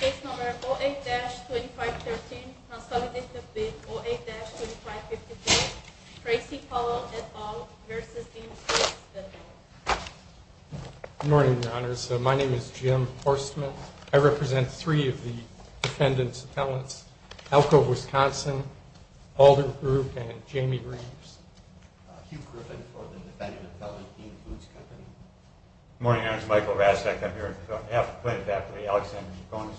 Case No. 08-2513, consultation phase 08-2515. Tracy Pollo et al. v. Dean Foods Co. Good morning, Your Honors. My name is Jim Forsman. I represent three of the defendant's appellants, Alko Wisconsin, Alder Group, and Jamie Reeves. Hugh Griffin for the defendant's appellant, Dean Foods Co. Good morning, Your Honors. Michael Rastak, I'm here on behalf of the plaintiff's affiliate, Alexander Jacones.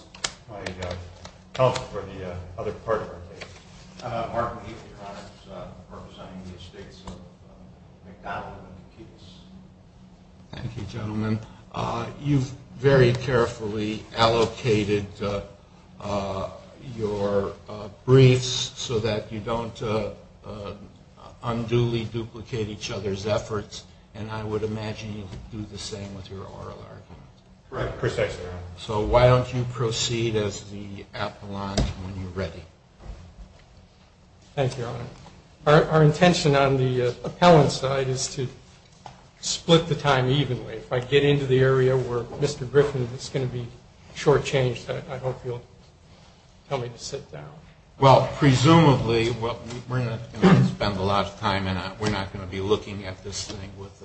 My help for the other partner case, Mark McNeil, Your Honors. I'm representing the state's civil case. Thank you, gentlemen. You've very carefully allocated your briefs so that you don't unduly duplicate each other's efforts, and I would imagine you would do the same with your oral arguments. Right, precisely. So why don't you proceed as the appellant when you're ready. Thank you, Your Honors. Our intention on the appellant's side is to split the time evenly. If I get into the area where Mr. Griffin is going to be shortchanged, I don't feel comfortable to sit down. Well, presumably, we're not going to spend a lot of time, and we're not going to be looking at this thing with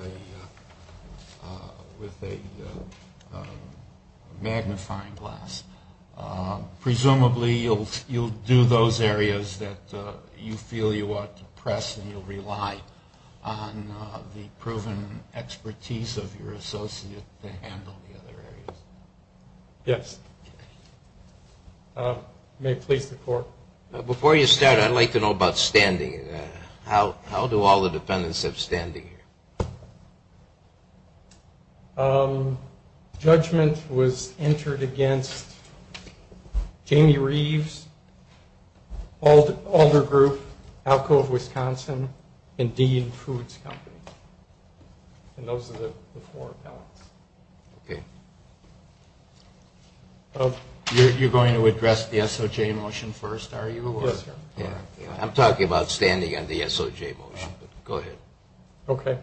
a magnifying glass. Presumably, you'll do those areas that you feel you ought to press, and you'll rely on the proven expertise of your associate to handle the other area. Yes. May I please report? Before you start, I'd like to know about standing. How do all the defendants have standing? Judgment was entered against Jamie Reeves, Alder Group, Alcove Wisconsin, and Dean Foods Company. And those are the four appellants. You're going to address the SOJ motion first, are you? Yes, sir. I'm talking about standing on the SOJ motion. Go ahead. Okay.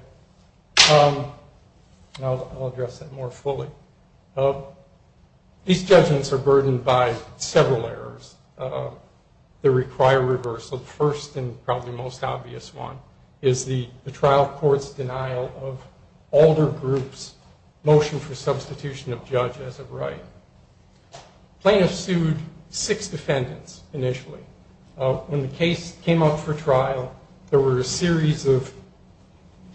I'll address that more fully. These judgments are burdened by several errors that require reversal. The first and probably most obvious one is the trial court's denial of Alder Group's motion for substitution of judge as of right. Plaintiffs sued six defendants initially. When the case came up for trial, there were a series of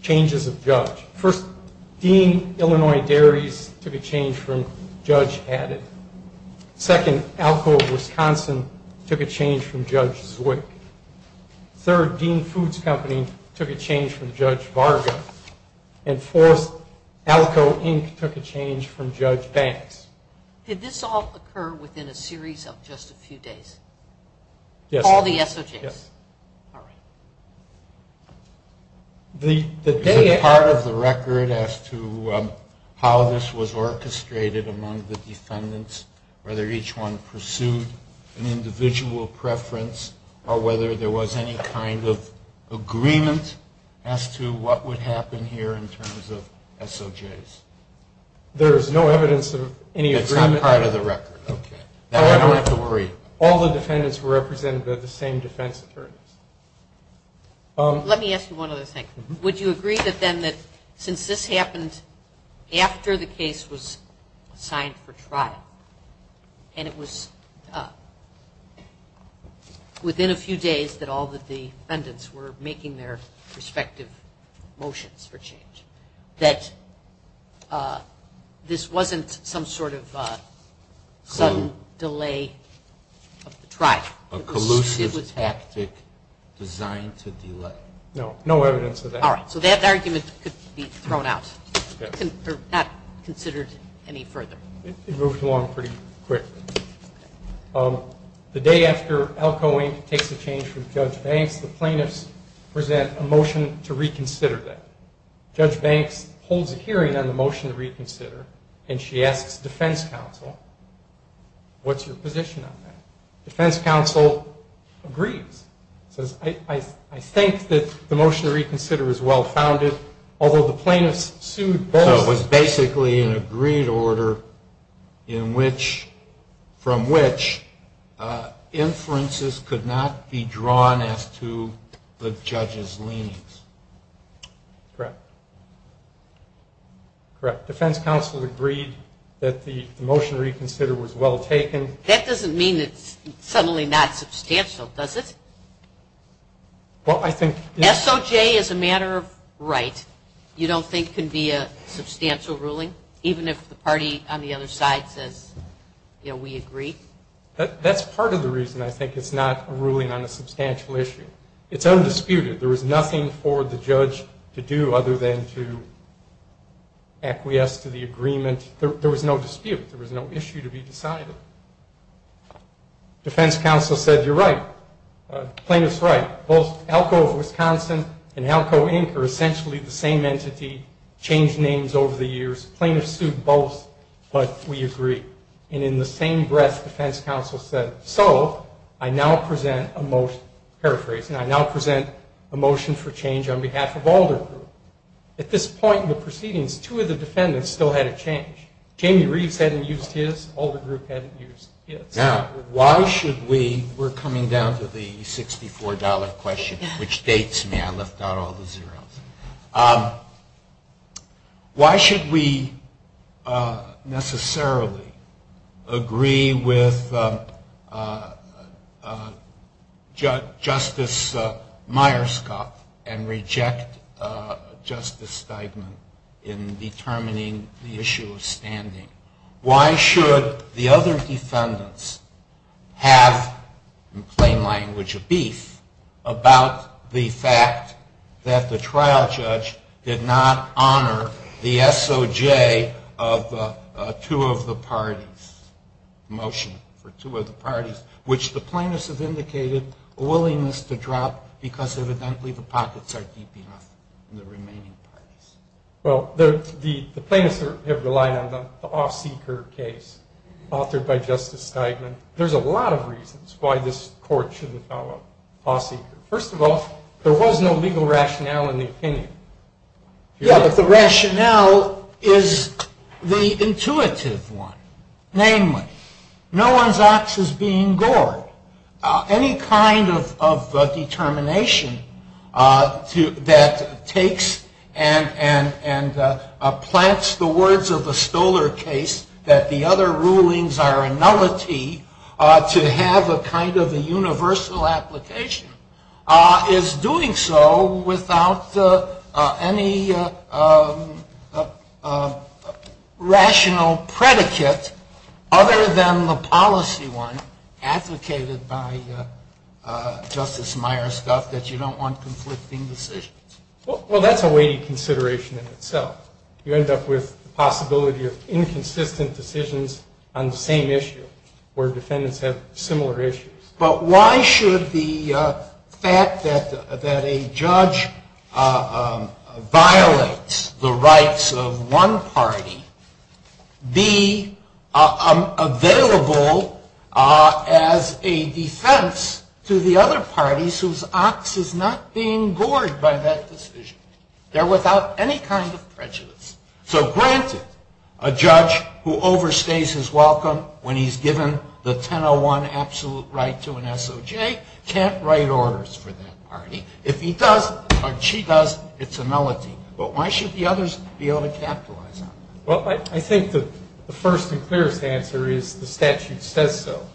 changes of judge. First, Dean, Illinois Dairies, took a change from Judge Haddon. Second, Alcove Wisconsin took a change from Judge Zwicky. Third, Dean Foods Company took a change from Judge Varga. And fourth, Alcove Inc. took a change from Judge Bass. Did this all occur within a series of just a few days? Yes. All the SOJs? Yes. Did you have any part of the record as to how this was orchestrated among the defendants, whether each one pursued an individual preference, or whether there was any kind of agreement as to what would happen here in terms of SOJs? There is no evidence of any agreement. No part of the record. Okay. All the defendants were represented by the same defense attorneys. Let me ask you one other thing. Would you agree then that since this happened after the case was signed for trial, and it was within a few days that all the defendants were making their respective motions for change, that this wasn't some sort of delay of trial? A collusive tactic designed to delay? No. No evidence of that. All right. So that argument could be thrown out. It's not considered any further. It moves along pretty quickly. The day after Alcove Inc. takes a change from Judge Banks, the plaintiffs present a motion to reconsider that. Judge Banks holds a hearing on the motion to reconsider, and she asks defense counsel, what's your position on that? Defense counsel agrees. He says, I think that the motion to reconsider is well-founded, although the plaintiffs seem better. So it was basically an agreed order from which inferences could not be drawn as to the judge's liens. Correct. Correct. Defense counsel agreed that the motion to reconsider was well-taken. That doesn't mean that it's totally not substantial, does it? Well, I think the SOJ is a matter of right. You don't think it can be a substantial ruling, even if the party on the other side says, you know, we agree? That's part of the reason I think it's not a ruling on a substantial issue. It's undisputed. There is nothing for the judge to do other than to acquiesce to the agreement. There was no dispute. There was no issue to be decided. Defense counsel said, you're right. Plaintiff's right. Both Alco Wisconsin and Alco Inc. are essentially the same entity, changed names over the years. Plaintiffs sued both, but we agree. And in the same breath, defense counsel said, so, I now present a motion for change on behalf of all the groups. At this point in the proceedings, two of the defendants still had a change. Jamie Reeves hadn't used his. All the groups hadn't used his. Now, why should we, we're coming down to the $64 question, which states, may I lift out all the zeros. Why should we necessarily agree with Justice Myerscott and reject Justice Steigman in determining the issue of standing? Why should the other defendants have, in plain language of beef, about the fact that the trial judge did not honor the SOJ of two of the parties, motion for two of the parties, which the plaintiffs have indicated a willingness to drop because evidently the pockets are deep enough in the remaining parties. Well, the plaintiffs have relied on the off-seeker case authored by Justice Steigman. There's a lot of reasons why this court shouldn't follow off-seeker. First of all, there was no legal rationale in the opinion. Yes, but the rationale is the intuitive one, namely, no one's ox is being gored. Any kind of determination that takes and plants the words of the Stoler case that the other rulings are a novelty to have a kind of a universal application is doing so without any rational predicate other than the policy one advocated by Justice Myerscott that you don't want conflicting decisions. Well, that's a weighty consideration in itself. You end up with the possibility of inconsistent decisions on the same issue where defendants have similar issues. But why should the fact that a judge violates the rights of one party be available as a defense to the other parties whose ox is not being gored by that decision? They're without any kind of prejudice. So granted, a judge who overstays his welcome when he's given the 1001 absolute right to an SOJ can't write orders for that party. If he does or she does, it's a novelty. But why should the others be able to capitalize on it? Well, I think the first and clearest answer is the statute says so.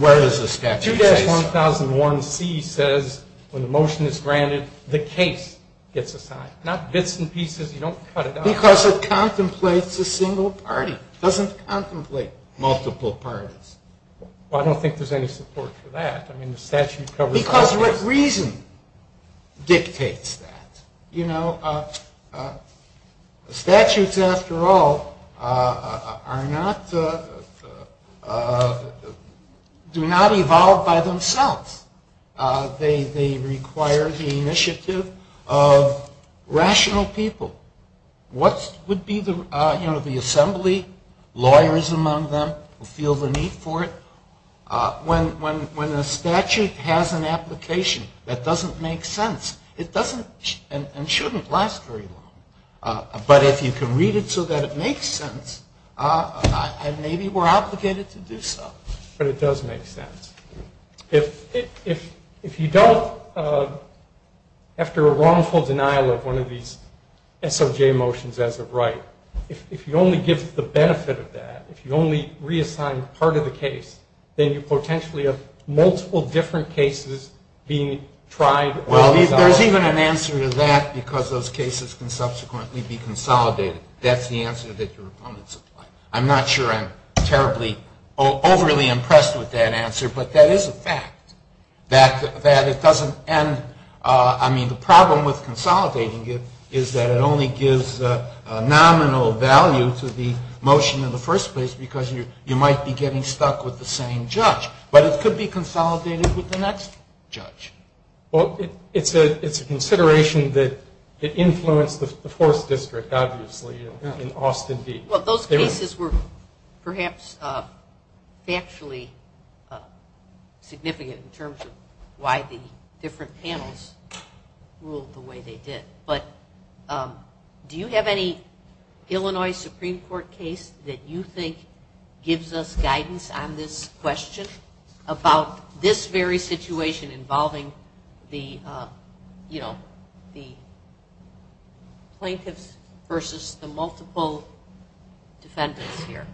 Where is the statute? 2-1001C says when the motion is granted, the case gets assigned. Not bits and pieces. You don't cut it out. Because it contemplates a single party. It doesn't contemplate multiple parties. I don't think there's any support for that. Because what reason dictates that? Statutes, after all, do not evolve by themselves. They require the initiative of rational people. What would be the assembly, lawyers among them, feel the need for it? When the statute has an application, that doesn't make sense. It doesn't and shouldn't last very long. But if you can read it so that it makes sense, then maybe we're obligated to do so. But it does make sense. If you don't, after a wrongful denial of one of these SRJ motions as of right, if you only give the benefit of that, if you only reassign part of the case, then you potentially have multiple different cases being tried. There's even an answer to that because those cases can subsequently be consolidated. That's the answer that your opponents apply. I'm not sure I'm terribly overly impressed with that answer, but that is a fact. It doesn't end. The problem with consolidating it is that it only gives nominal value to the motion in the first place because you might be getting stuck with the same judge. But it could be consolidated with the next judge. It's a consideration that influenced the fourth district, obviously, in Austin. Those cases were perhaps actually significant in terms of why the different panels ruled the way they did. But do you have any Illinois Supreme Court case that you think gives us guidance on this question about this very situation involving the plaintiffs versus the multiple defendants here?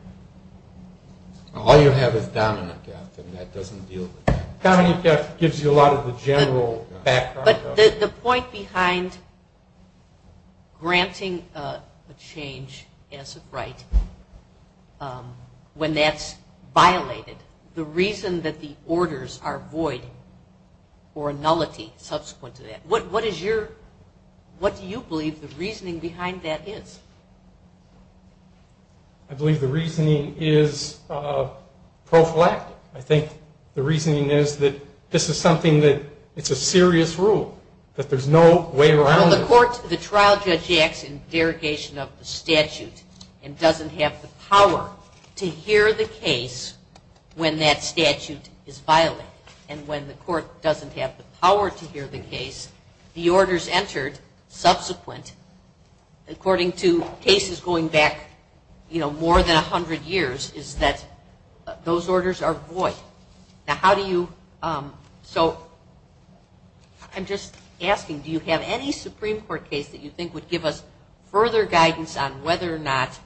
All you have is dominant judge, and that doesn't deal with that. Dominant judge gives you a lot of the general background. But the point behind granting a change as of right when that's violated, the reason that the orders are void or nullity subsequent to that, what do you believe the reasoning behind that is? I believe the reasoning is pro-flat. I think the reasoning is that this is something that it's a serious rule, that there's no way around it. The trial judge acts in verification of the statute and doesn't have the power to hear the case when that statute is violated. And when the court doesn't have the power to hear the case, the orders entered subsequent, according to cases going back more than 100 years, is that those orders are void. So I'm just asking, do you have any Supreme Court case that you think would give us further guidance on whether or not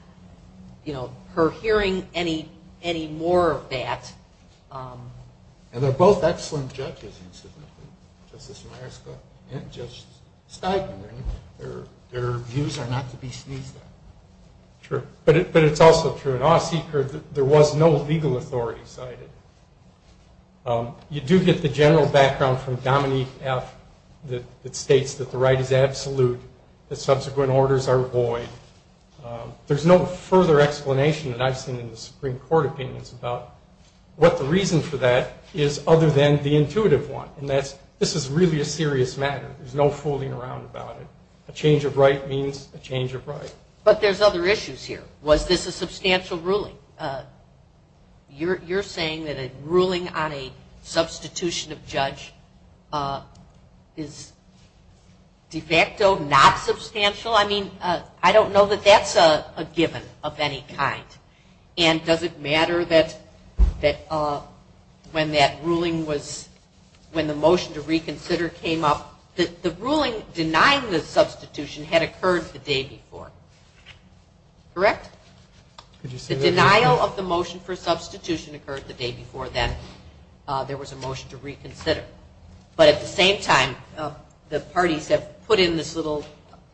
her hearing any more of that... And they're both excellent judges, incidentally. Justice Niasca and Justice Steinberg. Their views are not to be sneezed at. Sure, but it's also true. In our secret, there was no legal authority cited. You do get the general background from Dominique F. that states that the right is absolute, that subsequent orders are void. There's no further explanation that I've seen in the Supreme Court opinions about what the reason for that is other than the intuitive one, and that this is really a serious matter. There's no fooling around about it. A change of right means a change of right. But there's other issues here. Was this a substantial ruling? You're saying that a ruling on a substitution of judge is de facto not substantial? I mean, I don't know that that's a given of any kind. And does it matter that when that ruling was, when the motion to reconsider came up, the ruling denying the substitution had occurred the day before, correct? The denial of the motion for substitution occurred the day before then. There was a motion to reconsider. But at the same time, the parties have put in this little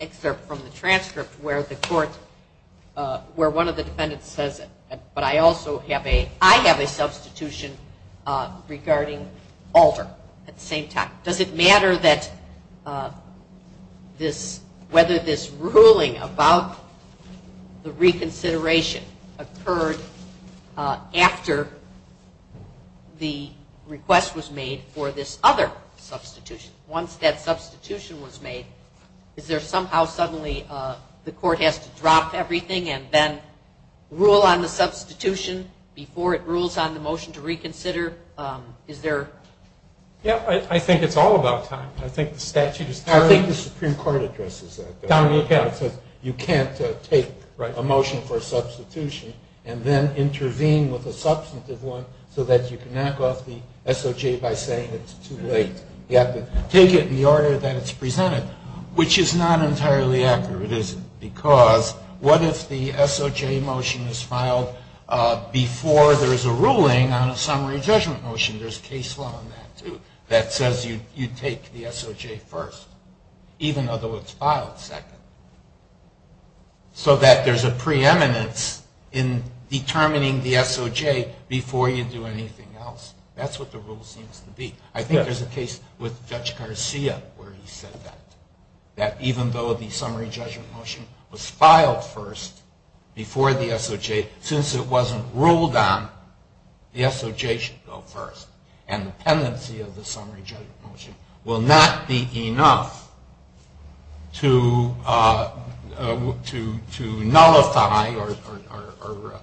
excerpt from the transcript where the court, where one of the defendants says, but I also have a, I have a substitution regarding Alder at the same time. Does it matter that this, whether this ruling about the reconsideration occurred after the request was made for this other substitution? Once that substitution was made, is there somehow, suddenly, the court has to drop everything and then rule on the substitution before it rules on the motion to reconsider? Yeah, I think it's all about time. I think the statute is there. I think the Supreme Court address is there. Don, look at it. You can't take a motion for substitution and then intervene with a substantive one so that you can knock off the SOJ by saying it's too late. You have to take it in the order that it's presented, which is not entirely accurate, is it? Because what if the SOJ motion is filed before there's a ruling on a summary judgment motion? There's case law on that, too, that says you take the SOJ first, even though it's filed second, so that there's a preeminence in determining the SOJ before you do anything else. That's what the rule seems to be. I think there's a case with Judge Garcia where he said that, even though the summary judgment motion was filed first before the SOJ, since it wasn't ruled on, the SOJ should go first. And the tendency of the summary judgment motion will not be enough to nullify or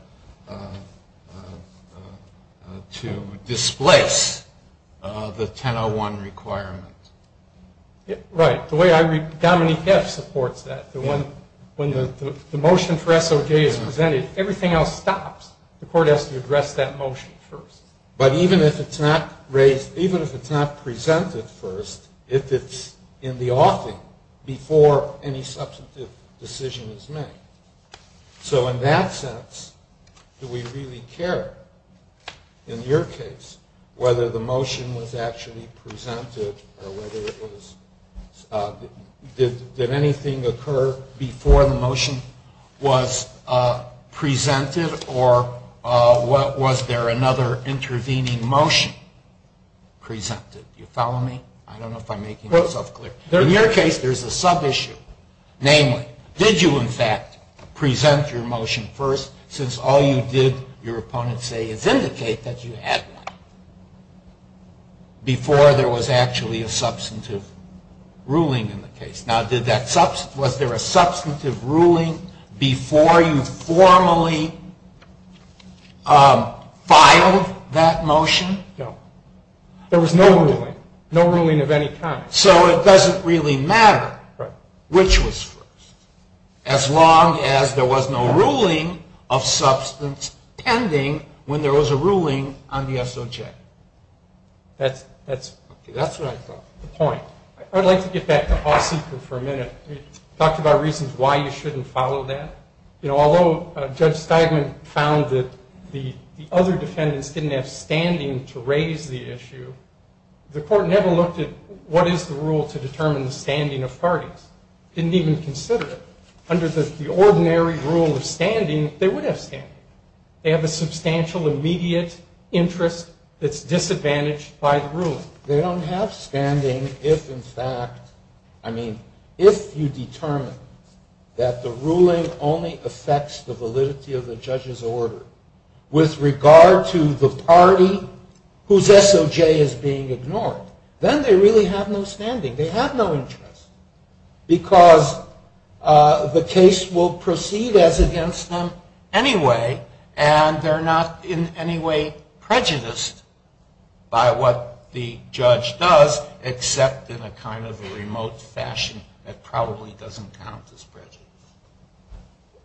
to displace the 1001 requirement. Right. The way I read it, Dominique Depp supports that. When the motion for SOJ is presented, everything else stops. The court has to address that motion first. But even if it's not raised, even if it's not presented first, if it's in the offing before any substantive decision is made. So in that sense, do we really care, in your case, whether the motion was actually presented or whether it was – did anything occur before the motion was presented or was there another intervening motion presented? Do you follow me? I don't know if I'm making myself clear. In your case, there's a sub-issue. Namely, did you, in fact, present your motion first, since all you did, your opponents say, is indicate that you had one, before there was actually a substantive ruling in the case. Now, was there a substantive ruling before you formally filed that motion? No. There was no ruling. No ruling of any kind. So it doesn't really matter which was first. As long as there was no ruling of substance pending when there was a ruling on the SOJ. That's what I thought. The point. I'd like to get back to the offing for a minute. You talked about reasons why you shouldn't follow that. You know, although Judge Steigman found that the other defendants didn't have standing to raise the issue, the court never looked at what is the rule to determine the standing of parties. Didn't even consider it. Under the ordinary rule of standing, they would have standing. They have a substantial immediate interest that's disadvantaged by the ruling. They don't have standing if, in fact, I mean, if you determine that the ruling only affects the validity of the judge's order with regard to the party whose SOJ is being ignored. Then they really have no standing. They have no interest. Because the case will proceed as against them anyway, and they're not in any way prejudiced by what the judge does, except in a kind of remote fashion that probably doesn't count as prejudice.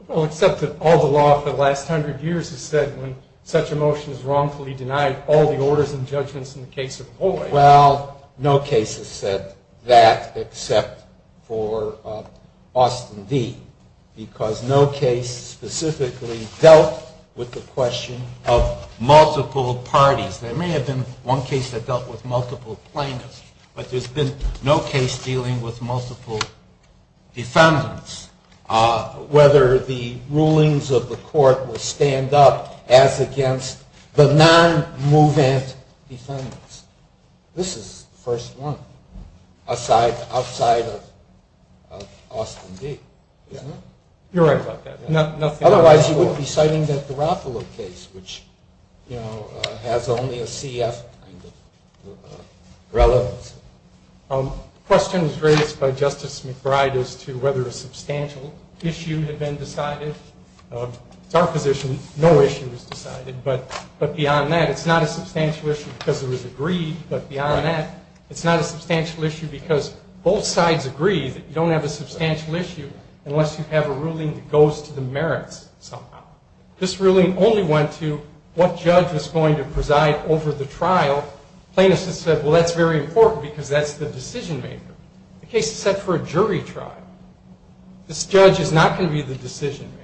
Well, except that all the law for the last hundred years has said when such a motion is wrongfully denied, all the orders and judgments in the case are void. Well, no case has said that except for Austin v. Because no case specifically dealt with the question of multiple parties. There may have been one case that dealt with multiple plaintiffs, but there's been no case dealing with multiple defendants. Whether the rulings of the court will stand up as against the non-movement defendants. This is the first one, outside of Austin v. You're right about that. Otherwise, you wouldn't be citing that Garoppolo case, which has only a CF kind of relevance. The question was raised by Justice McBride as to whether a substantial issue had been decided. It's our position no issue was decided. But beyond that, it's not a substantial issue because it was agreed. But beyond that, it's not a substantial issue because both sides agreed that you don't have a substantial issue unless you have a ruling that goes to the merits. This ruling only went to what judge is going to preside over the trial. Plaintiffs have said, well, that's very important because that's the decision-maker. The case is set for a jury trial. This judge is not going to be the decision-maker.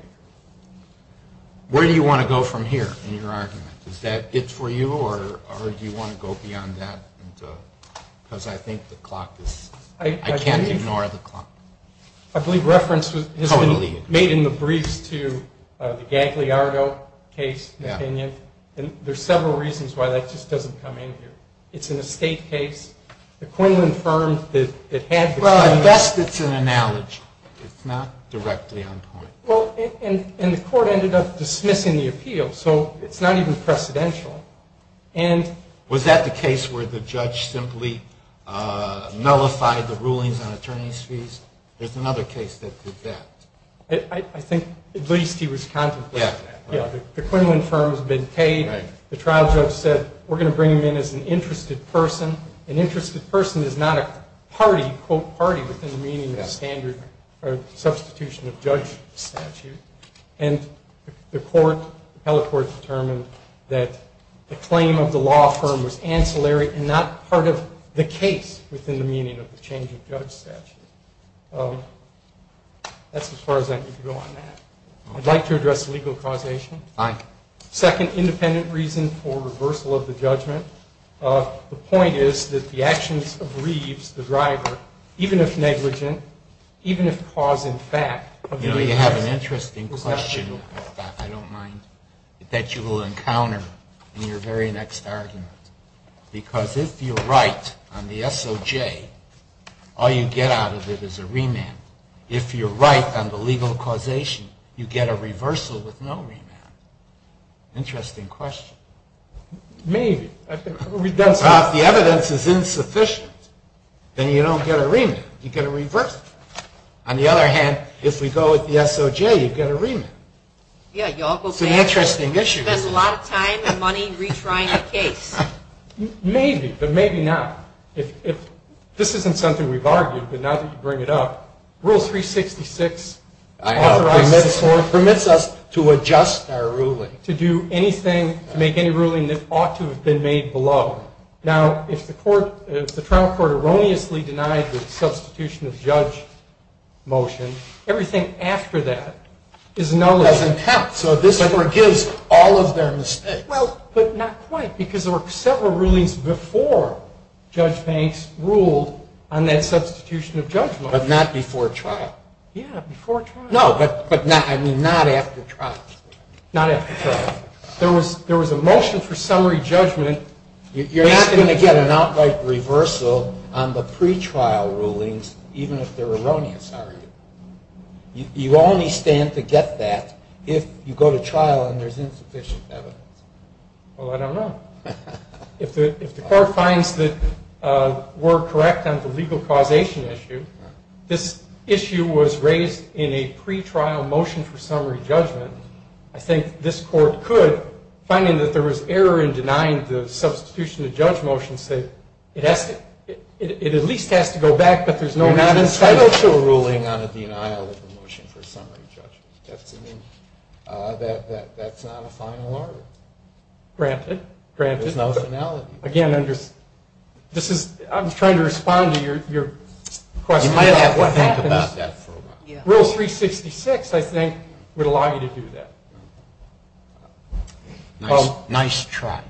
Where do you want to go from here in your argument? Is that it for you or do you want to go beyond that? Because I think the clock is, I can't ignore the clock. I believe reference has been made in the brief to the Gagliardo case, and there's several reasons why that just doesn't come in here. It's in a state case. The Quinlan firm that had the time. Well, I guess it's an analogy. It's not directly on court. Well, and the court ended up dismissing the appeal, so it's not even precedential. Was that the case where the judge simply nullified the rulings on attorney's fees? There's another case that did that. I think Zuzinski was contemplating that. Yeah, the Quinlan firm has been paid. The trial judge said, we're going to bring him in as an interested person. An interested person is not a party, quote, party within the meaning of the standard or substitution of judge statute. And the court, the appellate court, determined that the claim of the law firm was ancillary and not part of the case within the meaning of the change of judge statute. That's as far as I can go on that. I'd like to address legal causation. Fine. Second, independent reasons for reversal of the judgment. The point is that the actions of Reeves, the driver, even if negligent, even if cause and fact of the legal causation. You know, you have an interesting question that I don't mind, that you will encounter in your very next argument. Because if you're right on the SOJ, all you get out of it is a remand. And if you're right on the legal causation, you get a reversal with no remand. Interesting question. Maybe. The evidence is insufficient. And you don't get a remand. You get a reversal. On the other hand, if we go with the SOJ, you get a remand. Yeah. It's an interesting issue. You spend a lot of time and money retrying a case. Maybe. But maybe not. This isn't something we've argued, but now that you bring it up, Rule 366 authorizes or permits us to adjust our ruling, to do anything, to make any ruling that ought to have been made below. Now, if the trial court erroneously denies the substitution of judge motions, everything after that is no longer intact. So this overgives all of their instead. Well, but that's the point. Because there were several rulings before Judge Banks ruled on that substitution of judgment. But not before trial. Yeah, before trial. No, but not after trial. Not after trial. There was a motion for summary judgment. You're not going to get an outright reversal on the pretrial rulings, even if they're erroneous, are you? You only stand to get that if you go to trial and there's insufficient evidence. Well, I don't know. If the court finds that we're correct on the legal causation issue, this issue was raised in a pretrial motion for summary judgment. I think this court could, finding that there was error in denying the substitution of judge motions, it at least has to go back that there's no non-entitlement. You're not entitled to a ruling on a denial of a motion for summary judgment. That's not a final argument. Granted. There's no finality. Again, I'm just trying to respond to your question. You might have to think about that for a moment. Rule 366, I think, would allow you to do that. Nice try.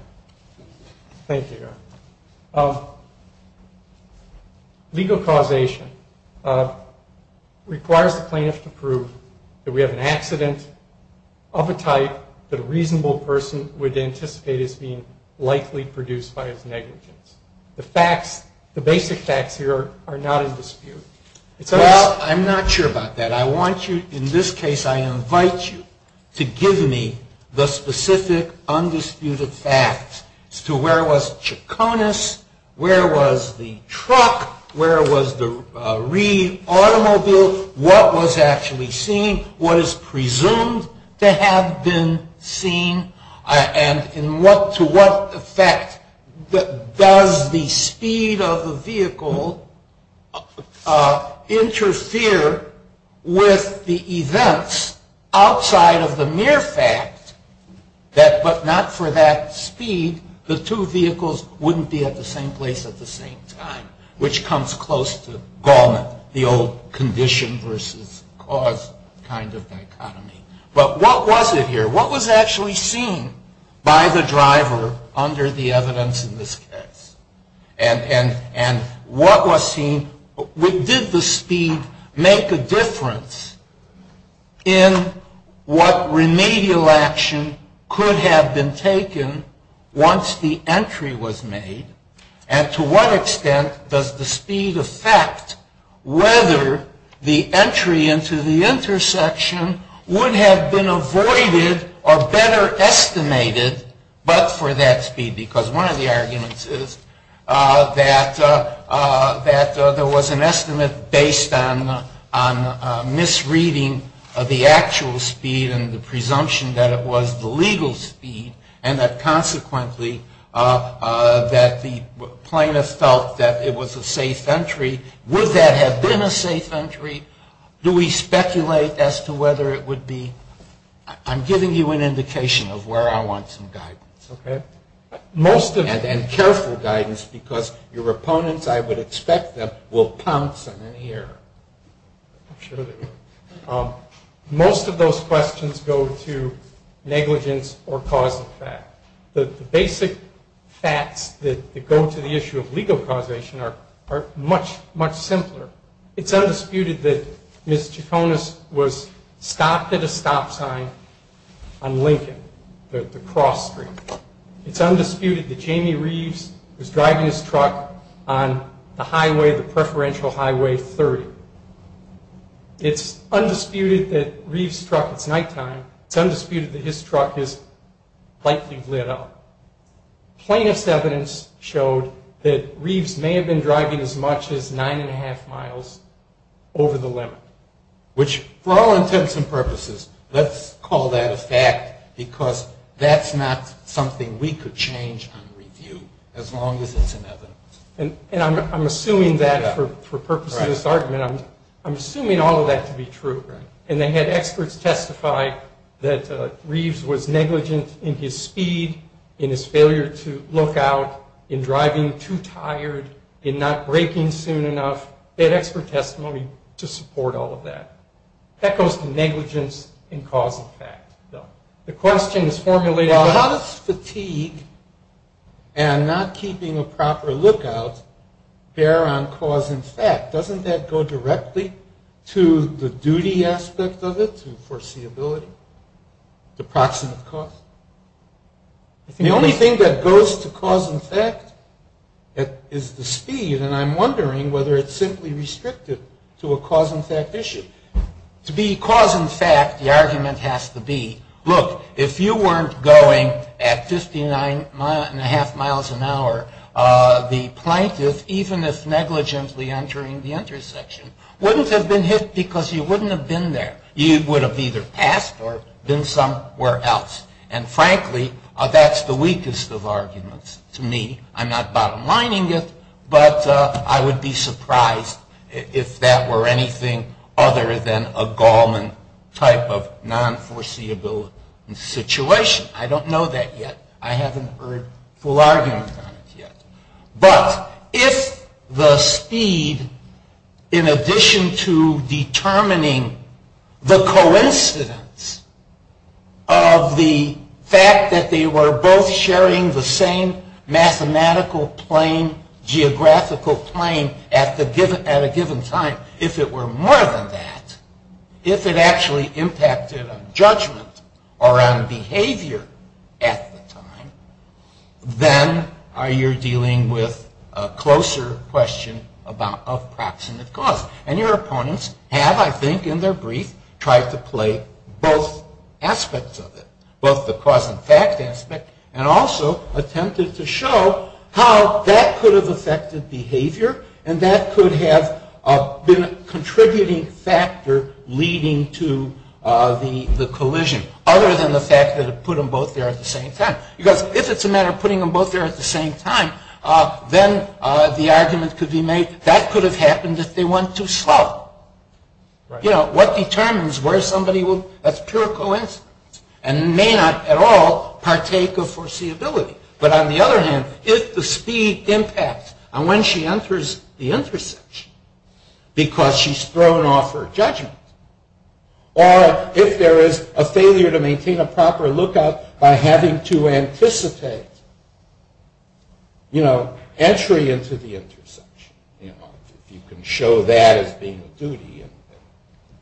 Thank you, Eric. Legal causation requires the plaintiff to prove that we have an accident of a type that a reasonable person would anticipate as being likely produced by its negligence. The facts, the basic facts here are not in dispute. Well, I'm not sure about that. In this case, I invite you to give me the specific undisputed facts as to where was Chaconus, where was the truck, where was the automobile, what was actually seen, what is presumed to have been seen, and to what effect does the speed of the vehicle interfere with the events outside of the mere fact that, but not for that speed, the two vehicles wouldn't be at the same place at the same time, which comes close to Gaumont, the old condition versus cause kind of economy. But what was it here? What was actually seen by the driver under the evidence in this case? And what was seen? Did the speed make a difference in what remedial action could have been taken once the entry was made? And to what extent does the speed affect whether the entry into the intersection would have been avoided or better estimated but for that speed? Because one of the arguments is that there was an estimate based on misreading of the actual speed and the presumption that it was the legal speed, and that consequently that the plaintiff felt that it was a safe entry. Would that have been a safe entry? Do we speculate as to whether it would be? I'm giving you an indication of where I want some guidance. Okay. And careful guidance, because your opponents, I would expect them, will pounce on you here. Most of those questions go to negligence or cause and effect. The basic facts that go to the issue of legal causation are much, much simpler. It's undisputed that Ms. Tufonis was stopped at a stop sign on Lincoln, the cross street. It's undisputed that Jamie Reeves was driving his truck on the highway, the preferential highway 30. It's undisputed that Reeves' truck is nighttime. It's undisputed that his truck is likely lit up. Plaintiff's evidence showed that Reeves may have been driving as much as nine and a half miles over the limit, which, for all intents and purposes, let's call that a fact, because that's not something we could change on review, as long as it's an evidence. And I'm assuming that, for purposes of this argument, I'm assuming all of that to be true. And they had experts testify that Reeves was negligent in his speed, in his failure to look out, in driving too tired, in not braking soon enough. They had expert testimony to support all of that. That goes to negligence in causal fact. The question is formulated on how does fatigue and not keeping a proper lookout bear on cause and effect? Doesn't that go directly to the duty aspect of it, to foreseeability, the proximate cause? The only thing that goes to cause and effect is the speed, and I'm wondering whether it's simply restricted to a cause and effect issue. To be cause and effect, the argument has to be, look, if you weren't going at 59 and a half miles an hour, the plaintiff, even if negligently entering the intersection, wouldn't have been hit because you wouldn't have been there. You would have either passed or been somewhere else. And frankly, that's the weakest of arguments to me. I'm not bottom-lining it, but I would be surprised if that were anything other than a Gallman type of non-foreseeability situation. I don't know that yet. I haven't heard full argument on it yet. But if the speed, in addition to determining the coincidence of the fact that they were both sharing the same mathematical plane, geographical plane at a given time, if it were more than that, if it actually impacted on judgment or on behavior at the time, then you're dealing with a closer question about a proximate cause. And your opponents have, I think in their brief, tried to play both aspects of it, both the cause and effect aspect, and also attempted to show how that could have affected behavior and that could have been a contributing factor leading to the collision, other than the fact that it put them both there at the same time. Because if it's a matter of putting them both there at the same time, then the argument could be made that that could have happened if they went too slow. You know, what determines where somebody would, that's pure coincidence. And it may not at all partake of foreseeability. But on the other hand, did the speed impact on when she enters the intersection because she's thrown off her judgment? Or if there is a failure to maintain a proper lookout by having to anticipate, you know, entry into the intersection. You can show that as being a duty.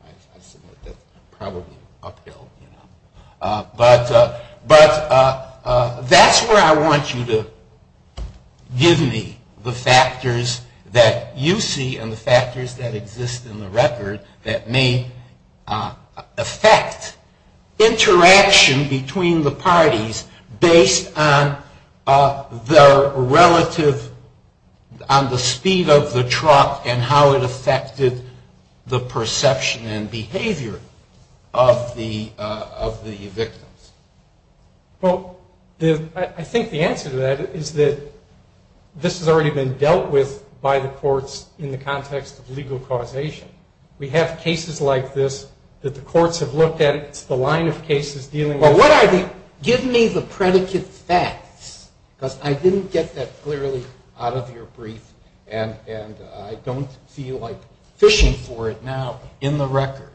I submit that's probably upheld. But that's where I want you to give me the factors that you see and the factors that exist in the record that may affect interaction between the parties based on the relative, on the speed of the truck and how it affected the perception and behavior of the victims. Well, I think the answer to that is that this has already been dealt with by the courts in the context of legal causation. We have cases like this that the courts have looked at. The line of cases dealing with... Well, what I mean, give me the predicate facts. Because I didn't get that clearly out of your brief, and I don't feel like fishing for it now in the record.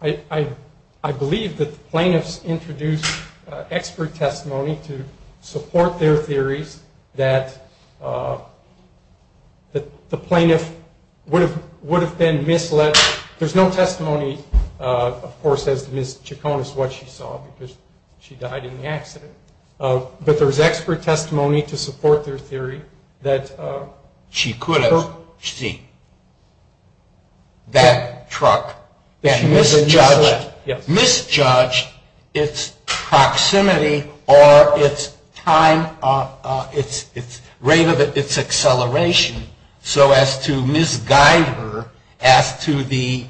I believe that the plaintiffs introduced expert testimony to support their theory that the plaintiff would have been misled. There's no testimony, of course, as to Ms. Chacon is what she saw because she died in the accident. But there's expert testimony to support their theory that she could have seen that truck, that misjudged its proximity or its rate of its acceleration so as to misguide her as to the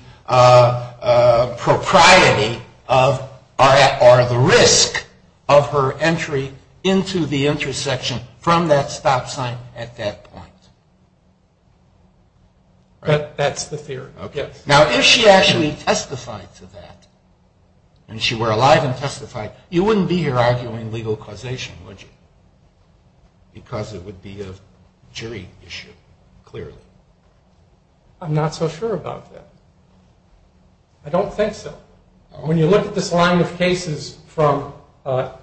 propriety or the risk of her entry into the intersection from that stop sign at that point. That's the theory. Now, if she actually testified to that, and she were alive and testified, you wouldn't be here arguing legal causation, would you? Because it would be a jury issue, clearly. I'm not so sure about that. I don't think so. When you look at this line of cases from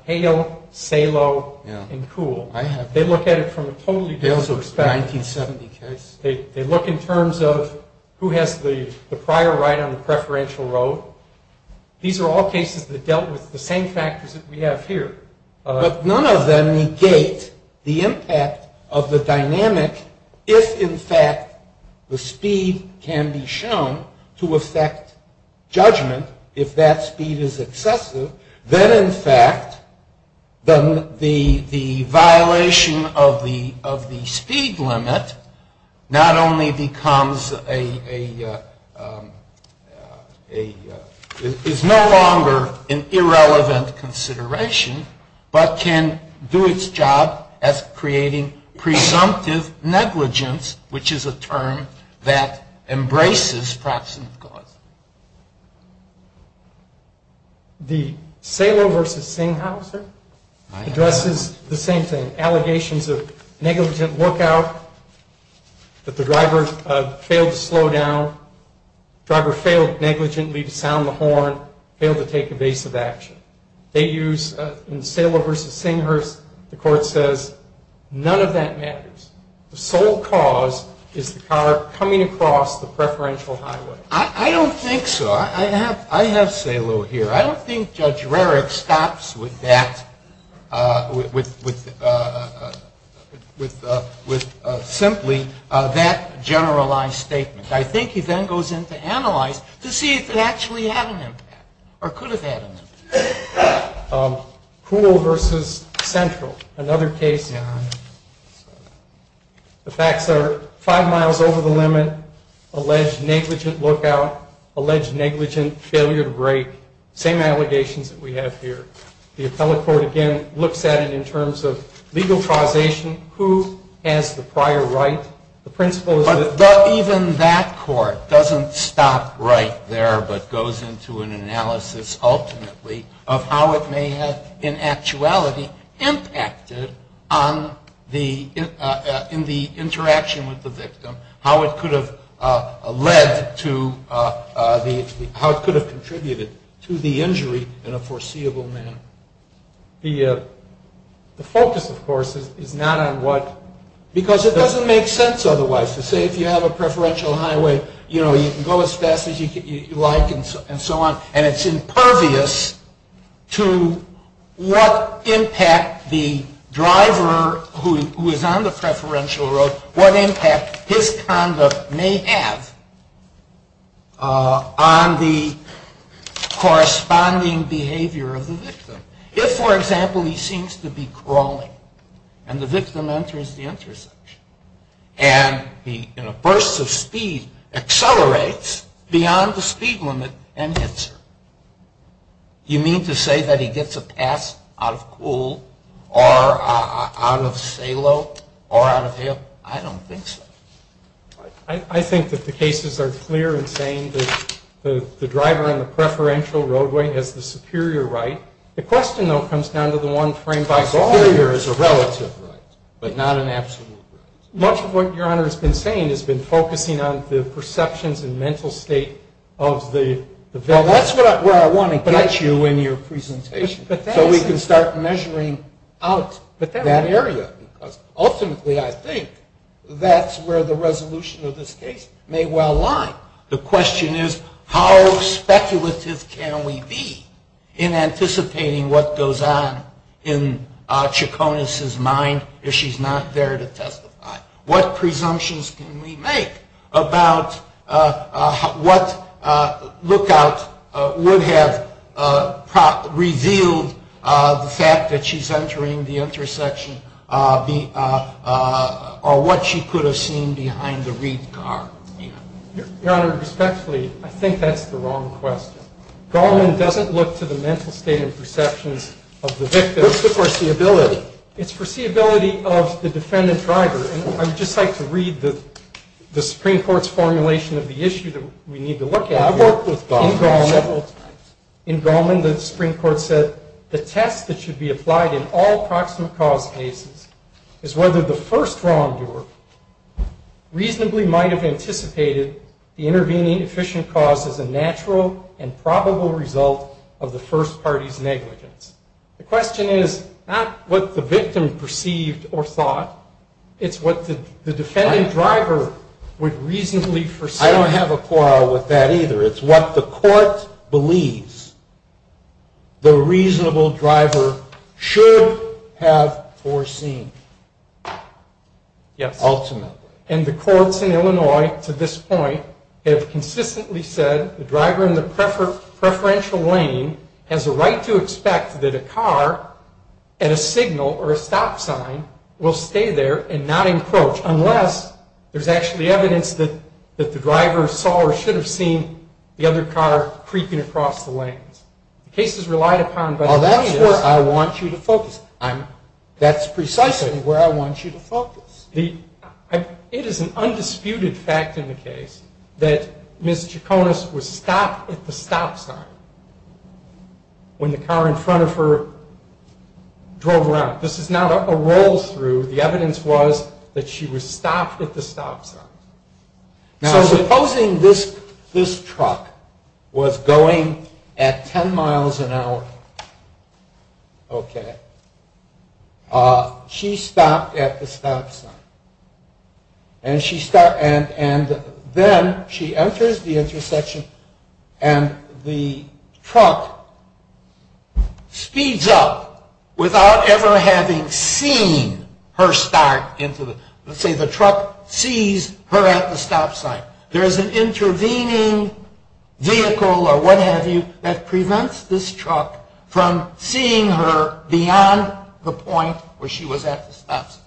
Hale, Salo, and Kuhl, they look at it from a totally different perspective. They look in terms of who has the prior right on the preferential road. These are all cases that dealt with the same factors that we have here. But none of them negate the impact of the dynamic if, in fact, the speed can be shown to affect judgment if that speed is excessive. Then, in fact, the violation of the speed limit not only becomes a... is no longer an irrelevant consideration, but can do its job at creating presumptive negligence, which is a term that embraces proximity. Salo v. Singhausen addresses the same thing. Allegations of negligent workout, that the driver failed to slow down, the driver failed negligently to sound the horn, failed to take evasive action. They use, in Salo v. Singhausen, the court says none of that matters. The sole cause is the car coming across the preferential highway. I don't think so. I have Salo here. I don't think Judge Rerich stops with that, with simply that generalized statement. I think he then goes in to analyze to see if that's re-evident or could have been. Poole v. Central, another case now. The facts are five miles over the limit, alleged negligent workout, alleged negligent failure to brake. Same allegations that we have here. The appellate court, again, looks at it in terms of legal causation, who has the prior rights, the principles. Even that court doesn't stop right there, but goes into an analysis ultimately of how it may have, in actuality, impacted on the interaction with the victim, how it could have led to, how it could have contributed to the injury in a foreseeable manner. The focus, of course, is not on what, because it doesn't make sense otherwise to say if you have a preferential highway, you can go as fast as you like and so on, and it's impervious to what impact the driver who is on the preferential road, what impact his conduct may have on the corresponding behavior of the victim. If, for example, he seems to be crawling and the victim enters the intersection and he, in a burst of speed, accelerates beyond the speed limit and hits her, do you mean to say that he gets a pass out of cool or out of salo or out of hip? I don't think so. I think that the cases are clear in saying that the driver on the preferential roadway has the superior right. The question, though, comes down to the one framed by superior is a relative right, but not an absolute right. Much of what Your Honor has been saying has been focusing on the perceptions and mental state of the victim. And that's where I want to get you in your presentation, so we can start measuring out that area, because ultimately I think that's where the resolution of this case may well lie. The question is how speculative can we be in anticipating what goes on in Chaconis's mind if she's not there to testify? What presumptions can we make about what lookout would have revealed the fact that she's entering the intersection or what she could have seen behind the red car? Your Honor, respectfully, I think that's the wrong question. Garland doesn't look to the mental state and perceptions of the victim. It's the foreseeability. It's foreseeability of the defendant driver. And I'd just like to read the Supreme Court's formulation of the issue that we need to look at here. In Garland, the Supreme Court says, the test that should be applied in all proximate cause cases is whether the first wrongdoer reasonably might have anticipated the intervening efficient cause as a natural and probable result of the first party's negligence. The question is not what the victim perceived or thought. It's what the defendant driver would reasonably foresee. I don't have a quarrel with that either. It's what the court believes the reasonable driver should have foreseen. Yeah, ultimately. And the courts in Illinois to this point have consistently said the driver in the preferential lane has a right to expect that a car and a signal or a stop sign will stay there and not encroach unless there's actually evidence that the driver saw or should have seen the other car creeping across the lane. The case is relied upon by the lawyer. Well, that's where I want you to focus. It is an undisputed fact in the case that Ms. Chaconas was stopped at the stop sign when the car in front of her drove around. This is not a roll through. The evidence was that she was stopped at the stop sign. Now, supposing this truck was going at 10 miles an hour. Okay. She stopped at the stop sign. And then she enters the intersection and the truck speeds up without ever having seen her start. Let's say the truck sees her at the stop sign. There is an intervening vehicle or what have you that prevents this truck from seeing her beyond the point where she was at the stop sign.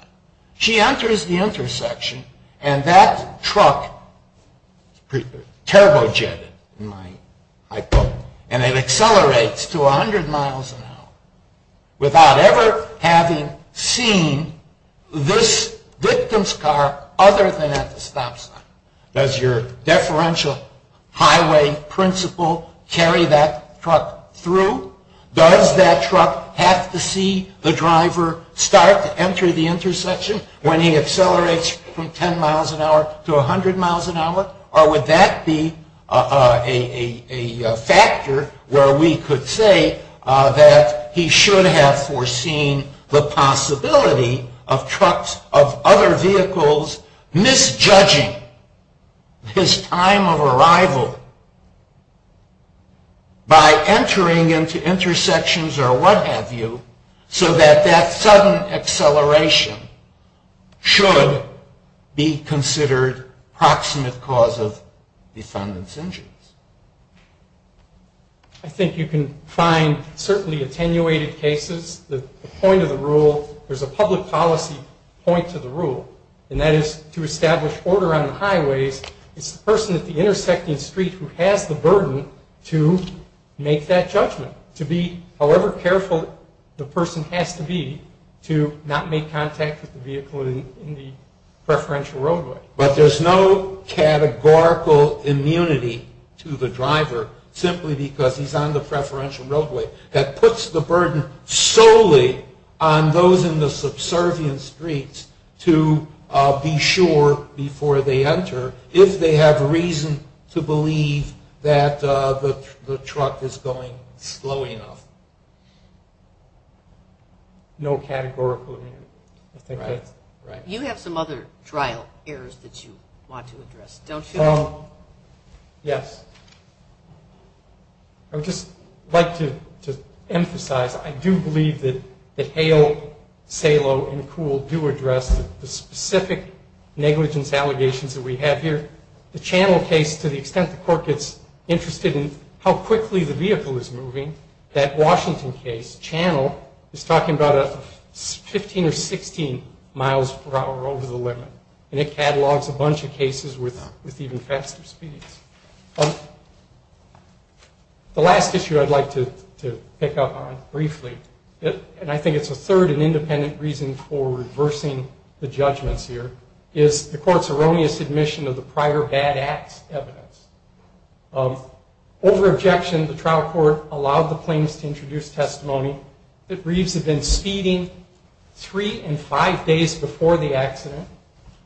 She enters the intersection and that truck turbo jetted, in my hypothesis, and it accelerates to 100 miles an hour without ever having seen this victim's car other than at the stop sign. Does your deferential highway principle carry that truck through? Does that truck have to see the driver start to enter the intersection when he accelerates from 10 miles an hour to 100 miles an hour? Or would that be a factor where we could say that he should have foreseen the possibility of other vehicles misjudging this time of arrival by entering into intersections or what have you so that that sudden acceleration should be considered proximate cause of defendant's injuries? I think you can find certainly attenuated cases. There's a point of the rule. There's a public policy point to the rule, and that is to establish order on the highways. It's the person at the intersecting street who has the burden to make that judgment, to be however careful the person has to be to not make contact with the vehicle in the preferential roadway. But there's no categorical immunity to the driver simply because he's on the preferential roadway. That puts the burden solely on those in the subservient streets to be sure before they enter if they have reason to believe that the truck is going slowly enough. No categorical immunity. You have some other trial errors that you want to address, don't you? Yes. I would just like to emphasize I do believe that Hale, Salo, and McCool do address the specific negligence allegations that we have here. The channel case, to the extent the court gets interested in how quickly the vehicle is moving, that Washington case, channel, is talking about 15 or 16 miles per hour over the limit. And it catalogs a bunch of cases with even faster speeds. The last issue I'd like to pick up on briefly, and I think it's a third and independent reason for reversing the judgments here, is the court's erroneous admission of the prior bad acts evidence. Over objections, the trial court allowed the plaintiffs to introduce testimony that Reeves had been speeding three and five days before the accident.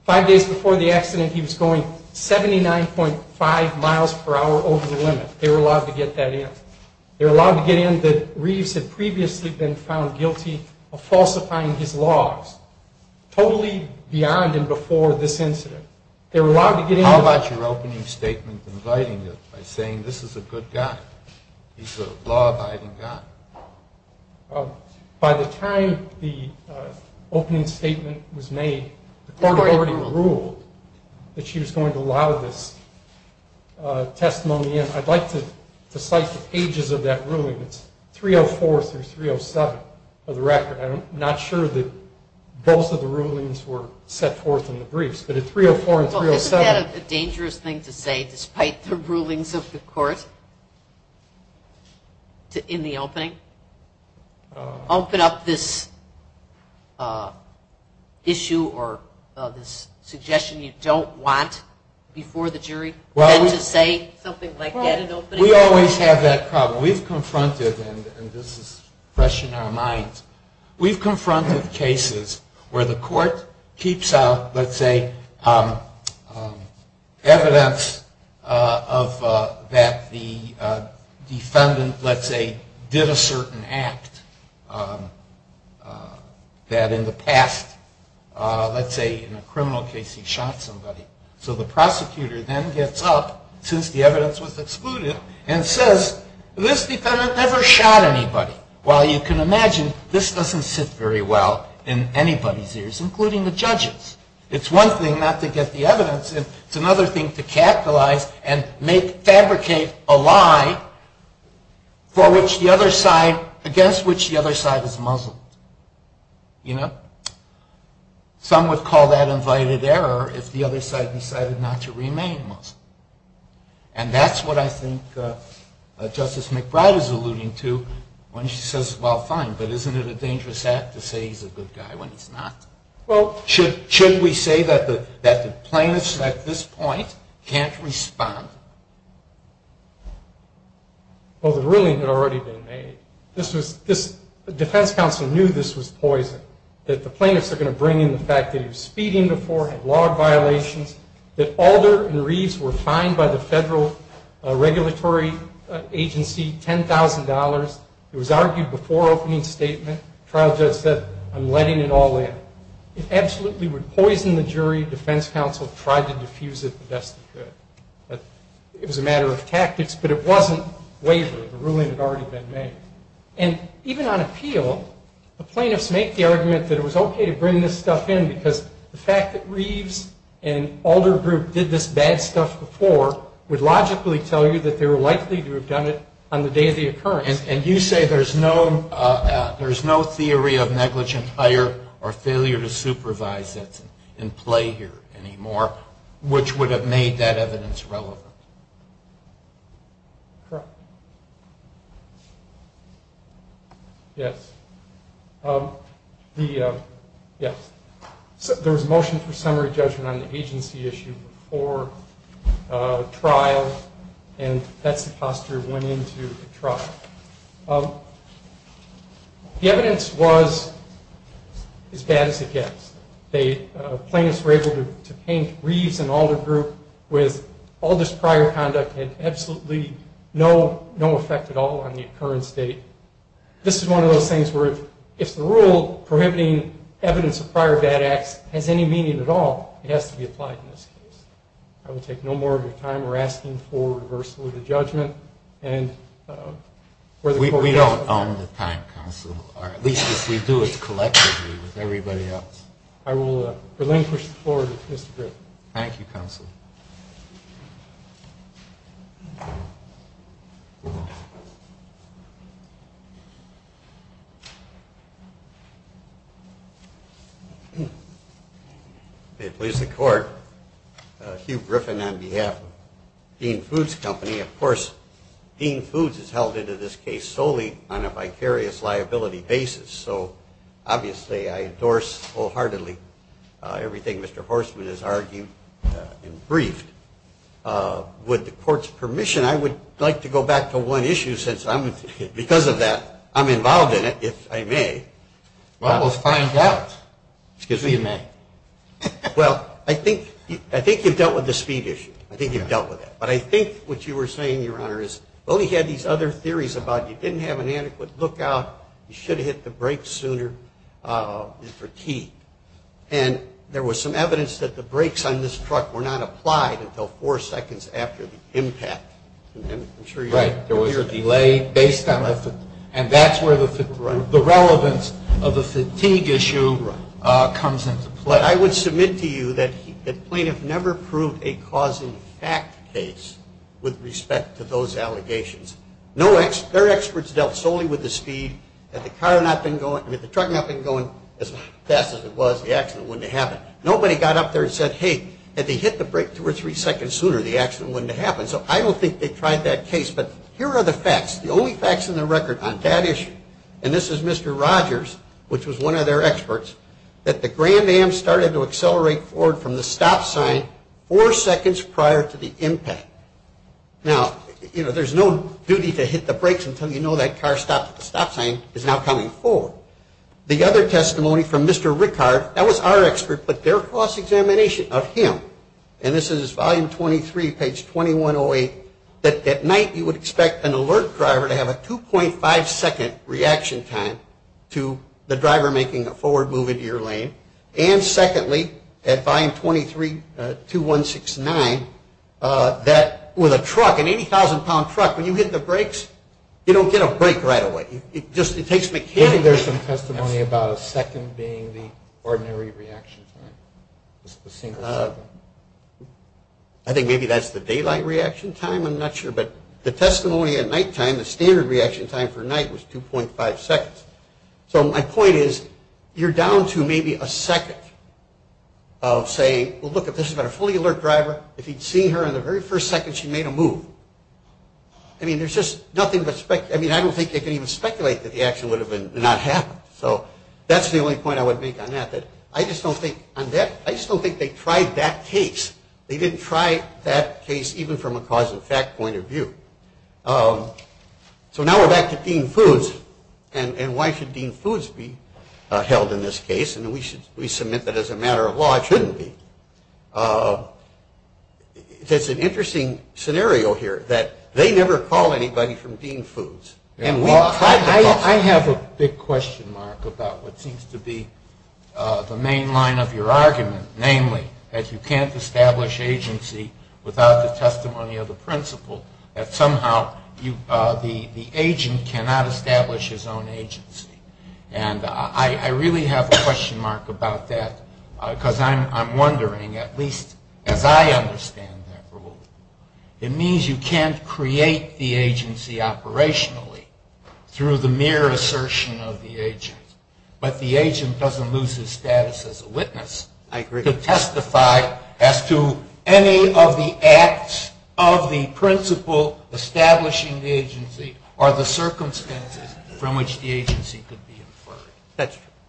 He was going 79.5 miles per hour over the limit. They were allowed to get that in. They were allowed to get in that Reeves had previously been found guilty of falsifying his laws, totally beyond and before this incident. They were allowed to get in. How about your opening statement inviting it by saying this is a good guy? He's a law-abiding guy. By the time the opening statement was made, the court had already ruled that she was going to allow this testimony in. I'd like to cite the pages of that ruling. It's 304 through 307 of the record. I'm not sure that both of the rulings were set forth in the briefs. But in 304 and 307. Isn't that a dangerous thing to say despite the rulings of the court in the opening? Open up this issue or this suggestion you don't want before the jury? To say something like that? We always have that problem. We've confronted, and this is fresh in our minds, we've confronted cases where the court keeps out, let's say, evidence that the defendant, let's say, did a certain act that in the past, let's say in a criminal case he shot somebody. So the prosecutor then gets up, since the evidence was excluded, and says this defendant never shot anybody. Well, you can imagine this doesn't sit very well in anybody's ears, including the judges. It's one thing not to get the evidence. It's another thing to capitalize and fabricate a lie against which the other side is Muslim. You know? Some would call that invited error if the other side decided not to remain Muslim. And that's what I think Justice McBride is alluding to when she says, well, fine, but isn't it a dangerous act to say he's a good guy when he's not? Well, should we say that the plaintiffs at this point can't respond? Well, the rulings had already been made. The defense counsel knew this was poison, that the plaintiffs are going to bring in the fact that you're speeding the court, have law violations, that Alder and Reeves were fined by the federal regulatory agency $10,000. It was argued before opening statement. The trial judge said, I'm letting it all out. It absolutely would poison the jury. The defense counsel tried to diffuse it the best they could. It was a matter of tactics, but it wasn't wavering. The ruling had already been made. And even on appeal, the plaintiffs make the argument that it was okay to bring this stuff in because the fact that Reeves and Alder group did this bad stuff before would logically tell you that they were likely to have done it on the day of the occurrence. And you say there's no theory of negligent fire or failure to supervise it in play here anymore, which would have made that evidence relevant. Correct. Yes. Yes. There was a motion for summary judgment on the agency issue before trials, and that's the posture that went into the trial. The evidence was as bad as it gets. The plaintiffs were able to paint Reeves and Alder group with all this prior conduct and absolutely no effect at all on the occurrence date. This is one of those things where if the rule prohibiting evidence of prior bad acts has any meaning at all, it has to be applied in this case. I would take no more of your time. We're asking for a reversal of the judgment. We don't own the time, counsel, or at least if we do it collectively with everybody else. I will relinquish the floor to Mr. Griffin. Thank you, counsel. At least the court. Hugh Griffin on behalf of Dean Foods Company. Of course, Dean Foods has held into this case solely on a vicarious liability basis, so obviously I endorse wholeheartedly everything Mr. Horstman has argued and briefed. With the court's permission, I would like to go back to one issue since I'm, because of that, I'm involved in it, if I may. Well, let's find out. Excuse me. Well, I think you've dealt with the speed issue. I think you've dealt with it. But I think what you were saying, Your Honor, is well, we had these other theories about you didn't have an adequate lookout, you should have hit the brakes sooner in fatigue. And there was some evidence that the brakes on this truck were not applied until four seconds after the impact. Right. There was a delay based on that. And that's where the relevance of the fatigue issue comes into play. I would submit to you that plaintiffs never proved a cause-and-effect case with respect to those allegations. Their experts dealt solely with the speed. Had the truck not been going as fast as it was, the accident wouldn't have happened. Nobody got up there and said, hey, had they hit the brakes two or three seconds sooner, the accident wouldn't have happened. So I don't think they tried that case. But here are the facts, the only facts on the record on that issue, and this is Mr. Rogers, which was one of their experts, that the Grand Am started to accelerate forward from the stop sign four seconds prior to the impact. Now, you know, there's no duty to hit the brakes until you know that car's stop sign is now coming forward. The other testimony from Mr. Rickard, that was our expert, but their cross-examination of him, and this is volume 23, page 2108, that at night you would expect an alert driver to have a 2.5-second reaction time to the driver making the forward move into your lane. And secondly, at volume 23, 2169, that with a truck, an 80,000-pound truck, when you hit the brakes, you don't get a break right away. It just, it takes mechanics. I think there's some testimony about a second being the ordinary reaction time. I think maybe that's the daylight reaction time, I'm not sure. But the testimony at nighttime, the standard reaction time for night was 2.5 seconds. So my point is, you're down to maybe a second of saying, well, look, if this had been a fully alert driver, if you'd seen her in the very first second she made a move. I mean, there's just nothing but, I mean, I don't think they can even speculate that the action would have not happened. So that's the only point I would make on that, that I just don't think, I just don't think they tried that case. They didn't try that case even from a cause-effect point of view. So now we're back to Dean Foos, and why should Dean Foos be held in this case? I mean, we submit that as a matter of law, it shouldn't be. There's an interesting scenario here, that they never call anybody from Dean Foos. I have a big question, Mark, about what seems to be the main line of your argument, namely that you can't establish agency without the testimony of the principal, that somehow the agent cannot establish his own agency. And I really have a question, Mark, about that, because I'm wondering, at least as I understand that rule, it means you can't create the agency operationally through the mere assertion of the agent. But the agent doesn't lose his status as a witness. I agree. To testify as to any of the acts of the principal establishing the agency or the circumstances from which the agency could be inferred.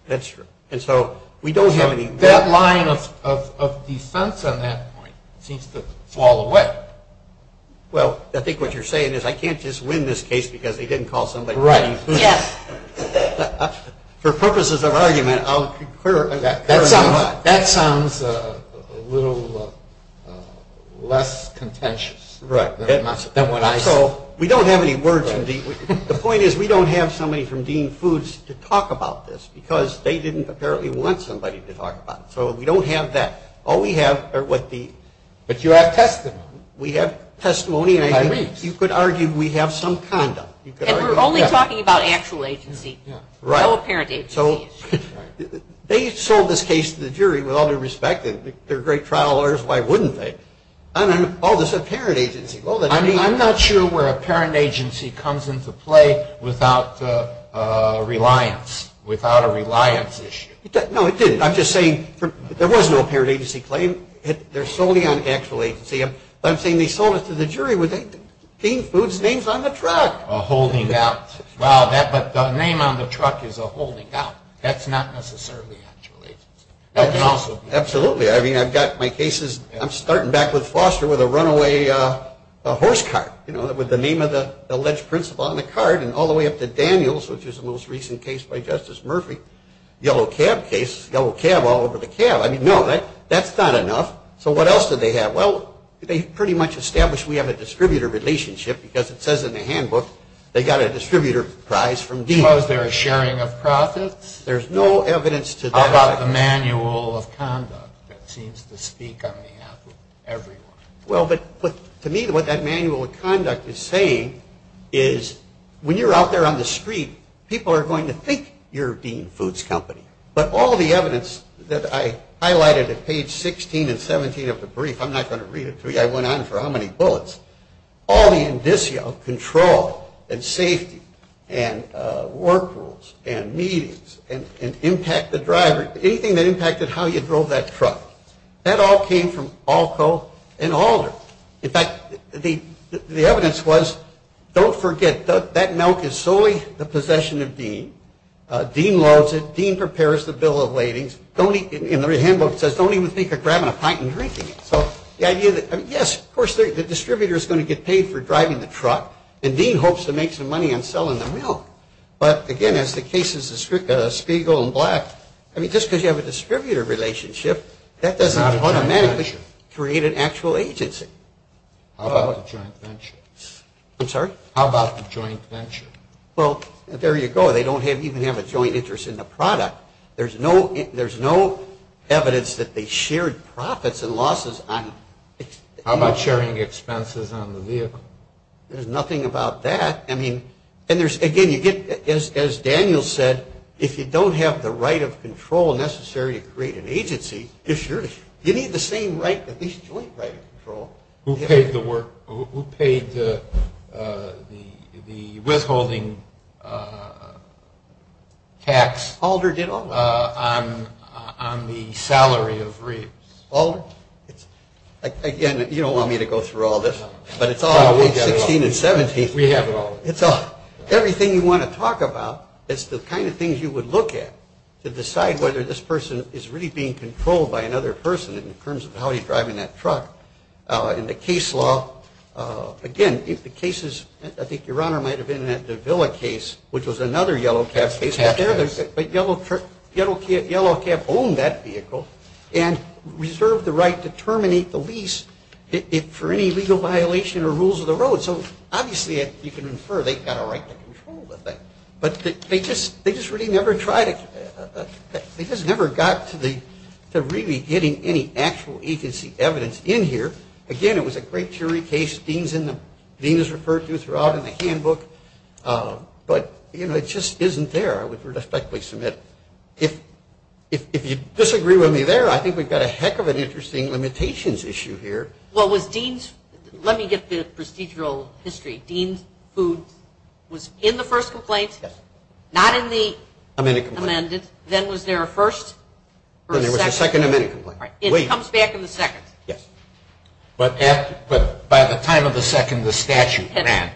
That's true. And so we don't have any... That line of defense on that point seems to fall away. Well, I think what you're saying is I can't just win this case because they didn't call somebody from Dean Foos. Yes. For purposes of argument, I'll prefer... That sounds a little less contentious. Right. So we don't have any words from Dean... The point is we don't have somebody from Dean Foos to talk about this, because they didn't apparently want somebody to talk about it. So we don't have that. All we have are what the... But you have testimony. We have testimony. You could argue we have some condom. And we're only talking about actual agency. Right. No apparent agency. They sold this case to the jury with all due respect. They're great trial lawyers. Why wouldn't they? I mean, all this apparent agency. I'm not sure where apparent agency comes into play without reliance, without a reliance issue. No, it didn't. I'm just saying there was no apparent agency claim. They're solding it with actual agency. I'm saying they sold it to the jury with Dean Foos' name on the truck. A holding out. Wow, but the name on the truck is a holding out. That's not necessarily actual agency. Absolutely. I mean, I've got my cases. I'm starting back with Foster with a runaway horse cart, you know, with the name of the alleged principal on the cart, and all the way up to Daniels, which is the most recent case by Justice Murphy, yellow cab case, yellow cab all over the cab. I mean, no, that's not enough. So what else did they have? Well, they pretty much established we have a distributor relationship because it says in the handbook they got a distributor prize from Dean. Was there a sharing of profits? There's no evidence to that. How about a manual of conduct that seems to speak on behalf of everyone? Well, to me, what that manual of conduct is saying is when you're out there on the street, people are going to think you're Dean Foos' company, but all the evidence that I highlighted at page 16 and 17 of the brief, I'm not going to read it through. I went on for how many bullets. All the indicia of control and safety and work rules and meetings and impact the driver, anything that impacted how you drove that truck, that all came from ALCO and Alden. In fact, the evidence was, don't forget, that milk is solely the possession of Dean. Dean loves it. Dean prepares the bill of ladings. In their handbook, it says don't even think of grabbing a pint and drinking it. Yes, of course, the distributor is going to get paid for driving the truck, and Dean hopes to make some money on selling the milk, but again, as the cases of Spiegel and Black, I mean, just because you have a distributor relationship, that doesn't automatically create an actual agency. How about the joint venture? I'm sorry? How about the joint venture? Well, there you go. They don't even have a joint interest in the product. There's no evidence that they shared profits and losses. How about sharing expenses on the vehicle? There's nothing about that. I mean, and again, as Daniel said, if you don't have the right of control necessary to create an agency, you need the same right, at least joint right of control. Who paid the withholding tax? Alder did all of it. On the salary of Reeves. Alder? Again, you don't want me to go through all this, but it's all on page 16 and 17. We have it all. It's all. Everything you want to talk about is the kind of things you would look at to decide whether this person is really being controlled by another person in terms of how he's driving that truck. In the case law, again, if the case is, I think your Honor might have been in that Davila case, which was another Yellow Cab case, but Yellow Cab owned that vehicle and reserved the right to terminate the lease for any legal violation or rules of the road. So obviously you can infer they've got a right to control that thing, but they just really never tried it. They just never got to really getting any actual agency evidence in here. Again, it was a great jury case. Dean is referred to throughout in the handbook, but it just isn't there. I would respectfully submit. If you disagree with me there, I think we've got a heck of an interesting limitations issue here. Well, let me get the procedural history. If it was Dean who was in the first complaint, not in the amended, then was there a first or a second? There was a second amended complaint. It comes back in the second. But by the time of the second, the statute had.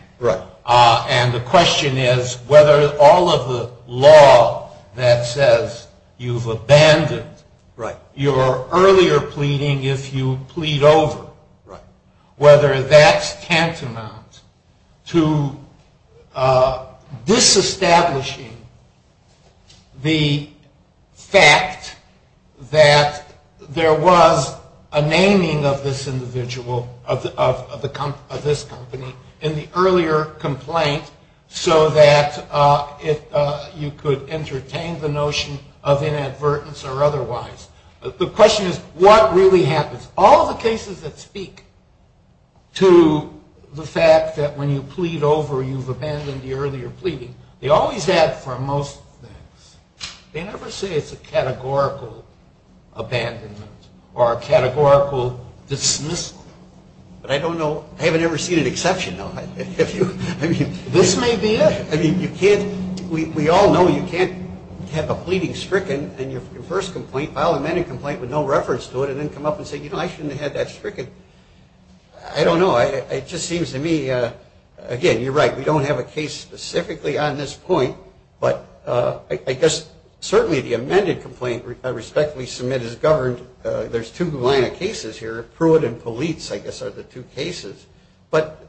And the question is whether all of the law that says you've abandoned your earlier pleading if you plead over, whether that's tantamount to disestablishing the fact that there was a naming of this individual, of this company, in the earlier complaint so that you could entertain the notion of inadvertence or otherwise. The question is what really happens? All the cases that speak to the fact that when you plead over, you've abandoned the earlier pleading, they always ask for most things. They never say it's a categorical abandonment or a categorical dismissal. But I don't know. I haven't ever seen an exception, though. I mean, this may be it. I mean, we all know you can't have a pleading stricken and your first complaint, file an amended complaint with no reference to it and then come up and say, you know, I shouldn't have had that stricken. I don't know. It just seems to me, again, you're right. We don't have a case specifically on this point. But I guess certainly the amended complaint, respectfully submitted, is governed. There's two line of cases here. Pruitt and Polizzi, I guess, are the two cases. But,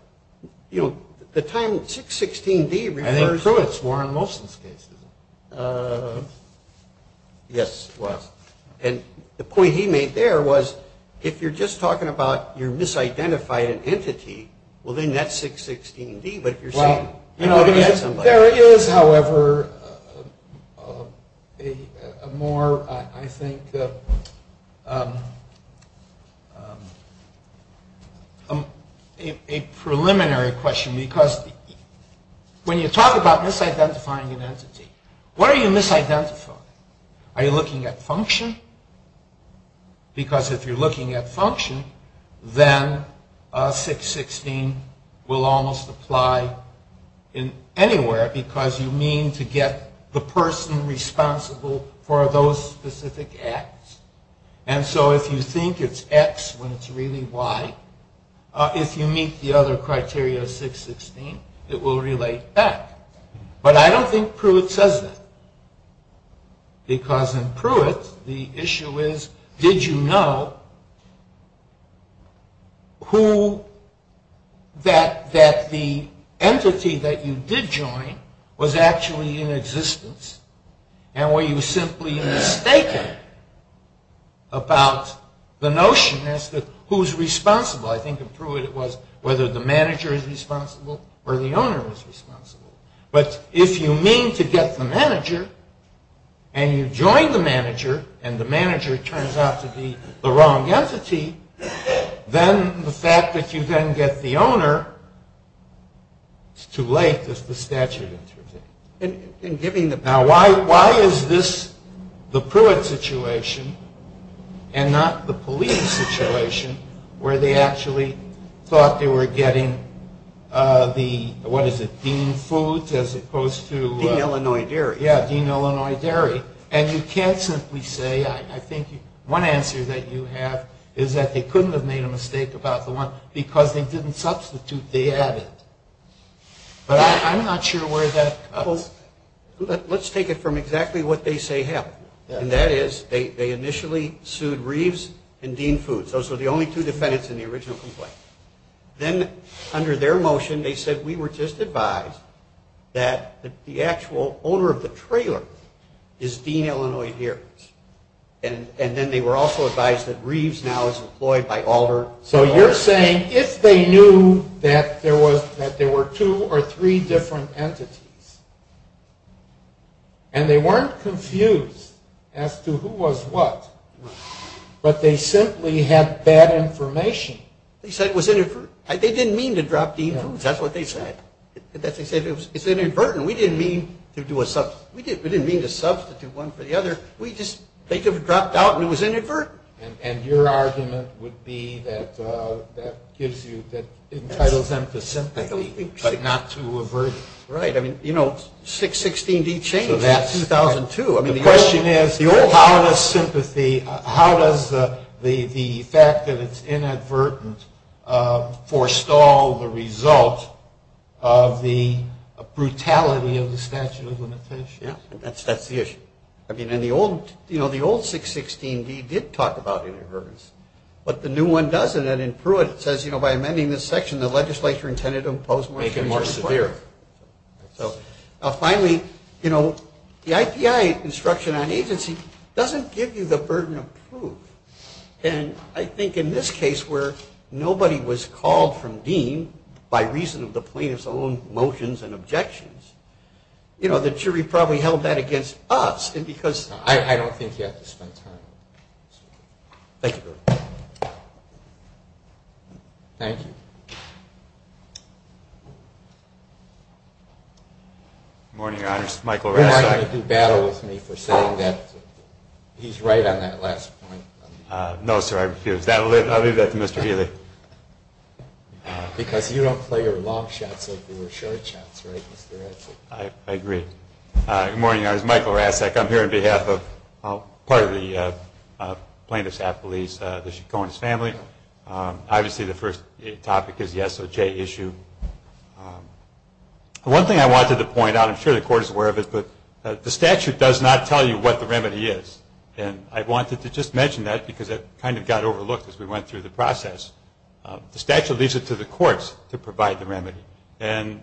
you know, at the time, 616D referred to Pruitt's more than Wilson's case. Yes, it was. And the point he made there was, if you're just talking about you're misidentifying an entity, well, then that's 616D. But you're saying you're looking at somebody else. There is, however, a more, I think, a preliminary question. Because when you talk about misidentifying an entity, what are you misidentifying? Well, are you looking at function? Because if you're looking at function, then 616 will almost apply in anywhere because you mean to get the person responsible for those specific acts. And so if you think it's X when it's really Y, if you meet the other criteria of 616, it will relate back. But I don't think Pruitt says that. Because in Pruitt, the issue is, did you know that the entity that you did join was actually in existence and were you simply mistaken about the notion as to who's responsible? I think in Pruitt it was whether the manager is responsible or the owner is responsible. But if you mean to get the manager, and you join the manager, and the manager turns out to be the wrong entity, then the fact that you then get the owner, it's too late. The statute is rejected. Now, why is this the Pruitt situation and not the police situation where they actually thought they were getting the, what is it, dean food as opposed to... Dean Illinois Dairy. Yeah, Dean Illinois Dairy. And you can certainly say, I think one answer that you have is that they couldn't have made a mistake about the one because they didn't substitute, they added. I'm not sure where that comes from. Let's take it from exactly what they say happened. And that is, they initially sued Reeves and Dean Food. Those were the only two defendants in the original complaint. Then, under their motion, they said we were just advised that the actual owner of the trailer is Dean Illinois Dairy. And then they were also advised that Reeves now is employed by Alder. So you're saying if they knew that there were two or three different entities and they weren't confused as to who was what, but they simply had bad information... They said it was inadvertent. They didn't mean to drop Dean food. That's what they said. They said it was inadvertent. We didn't mean to do a substitute. We didn't mean to substitute one for the other. We just, they could have dropped out and it was inadvertent. And your argument would be that that entitles them to sympathy, not to aversion. Right. You know, 616D changed that in 2002. The question is, how does sympathy, how does the fact that it's inadvertent forestall the result of the brutality of the statute of limitations? Yes, that's the issue. I mean, in the old, you know, the old 616D did talk about inadvertence, but the new one doesn't. And in Pruitt it says, you know, by amending this section, the legislature intended to impose... Make it more severe. Now finally, you know, the ITI instruction on agency doesn't give you the burden of proof. And I think in this case where nobody was called from Dean by reason of the plaintiff's own motions and objections, you know, the jury probably held that against us. And because... I don't think you have to spend time on this. Thank you, sir. Thank you. Good morning, Your Honor. This is Mike Loretta. You're not going to do battle with me for saying that. He's right on that last point. No, sir, I refuse. I'll leave that to Mr. Healy. Thank you. Because if you don't play your long shots, they'll be your short shots, right? I agree. Good morning, Your Honor. This is Michael Racek. I'm here on behalf of part of the plaintiff's affilies, the Chacon's family. Obviously the first topic is the SOJ issue. One thing I wanted to point out, I'm sure the Court is aware of this, but the statute does not tell you what the remedy is. And I wanted to just mention that because it kind of got overlooked as we went through the process. The statute leaves it to the courts to provide the remedy. And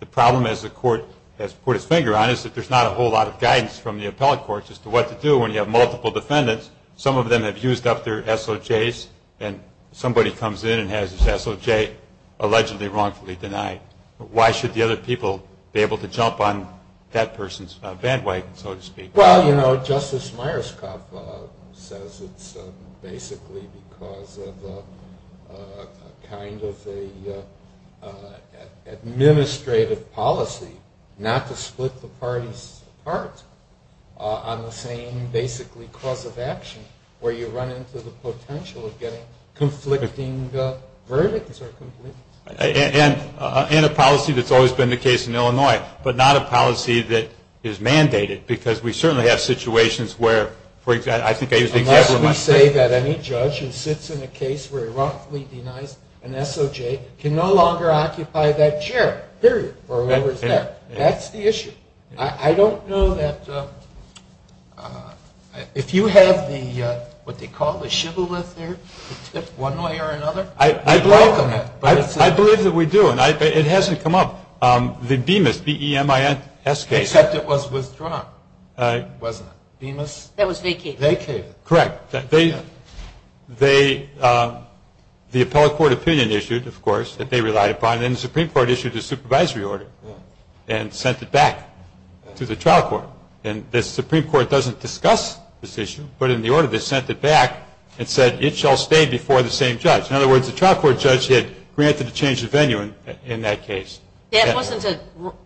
the problem, as the Court has put its finger on, is that there's not a whole lot of guidance from the appellate courts as to what to do when you have multiple defendants. Some of them have used up their SOJs, and somebody comes in and has his SOJ allegedly wrongfully denied. Why should the other people be able to jump on that person's bandwagon, so to speak? Well, you know, Justice Myerscough says it's basically because of a kind of an administrative policy not to split the parties apart on the same, basically, clause of action, where you run into the potential of getting conflicting verdicts. And a policy that's always been the case in Illinois, but not a policy that is mandated because we certainly have situations where, for example, I think there's exactly one thing. Unless we say that any judge who sits in a case where he wrongfully denies an SOJ can no longer occupy that chair, period, or whatever it's called. That's the issue. I don't know that if you have the, what they call the shibboleth there, one way or another. I believe that we do, and it hasn't come up. The Bemis, B-E-M-I-S case. Except it was with Trump, wasn't it? Bemis? That was Vacay. Vacay. Correct. The appellate court opinion issued, of course, that they relied upon, and the Supreme Court issued a supervisory order and sent it back to the trial court. And the Supreme Court doesn't discuss this issue, but in the order they sent it back and said it shall stay before the same judge. In other words, the trial court judge had granted a change of venue in that case. That wasn't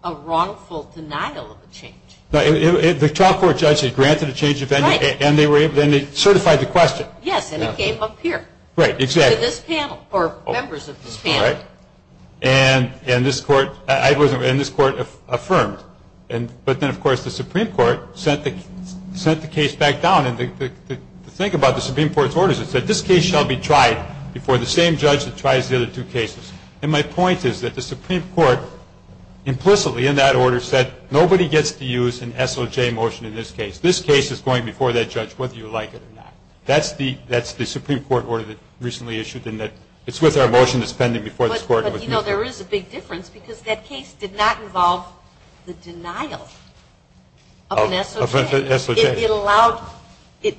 a wrongful denial of the change. The trial court judge had granted a change of venue, and they certified the question. Yes, and it came up here. Right, exactly. To this panel, or members of this panel. And this court affirmed. But then, of course, the Supreme Court sent the case back down. And to think about the Supreme Court's orders, it said this case shall be tried before the same judge that tries the other two cases. And my point is that the Supreme Court implicitly, in that order, said nobody gets to use an SOJ motion in this case. This case is going before that judge whether you like it or not. That's the Supreme Court order that was recently issued, and it's with our motion that's pending before this court. But, you know, there is a big difference, because that case did not involve the denial of an SOJ. It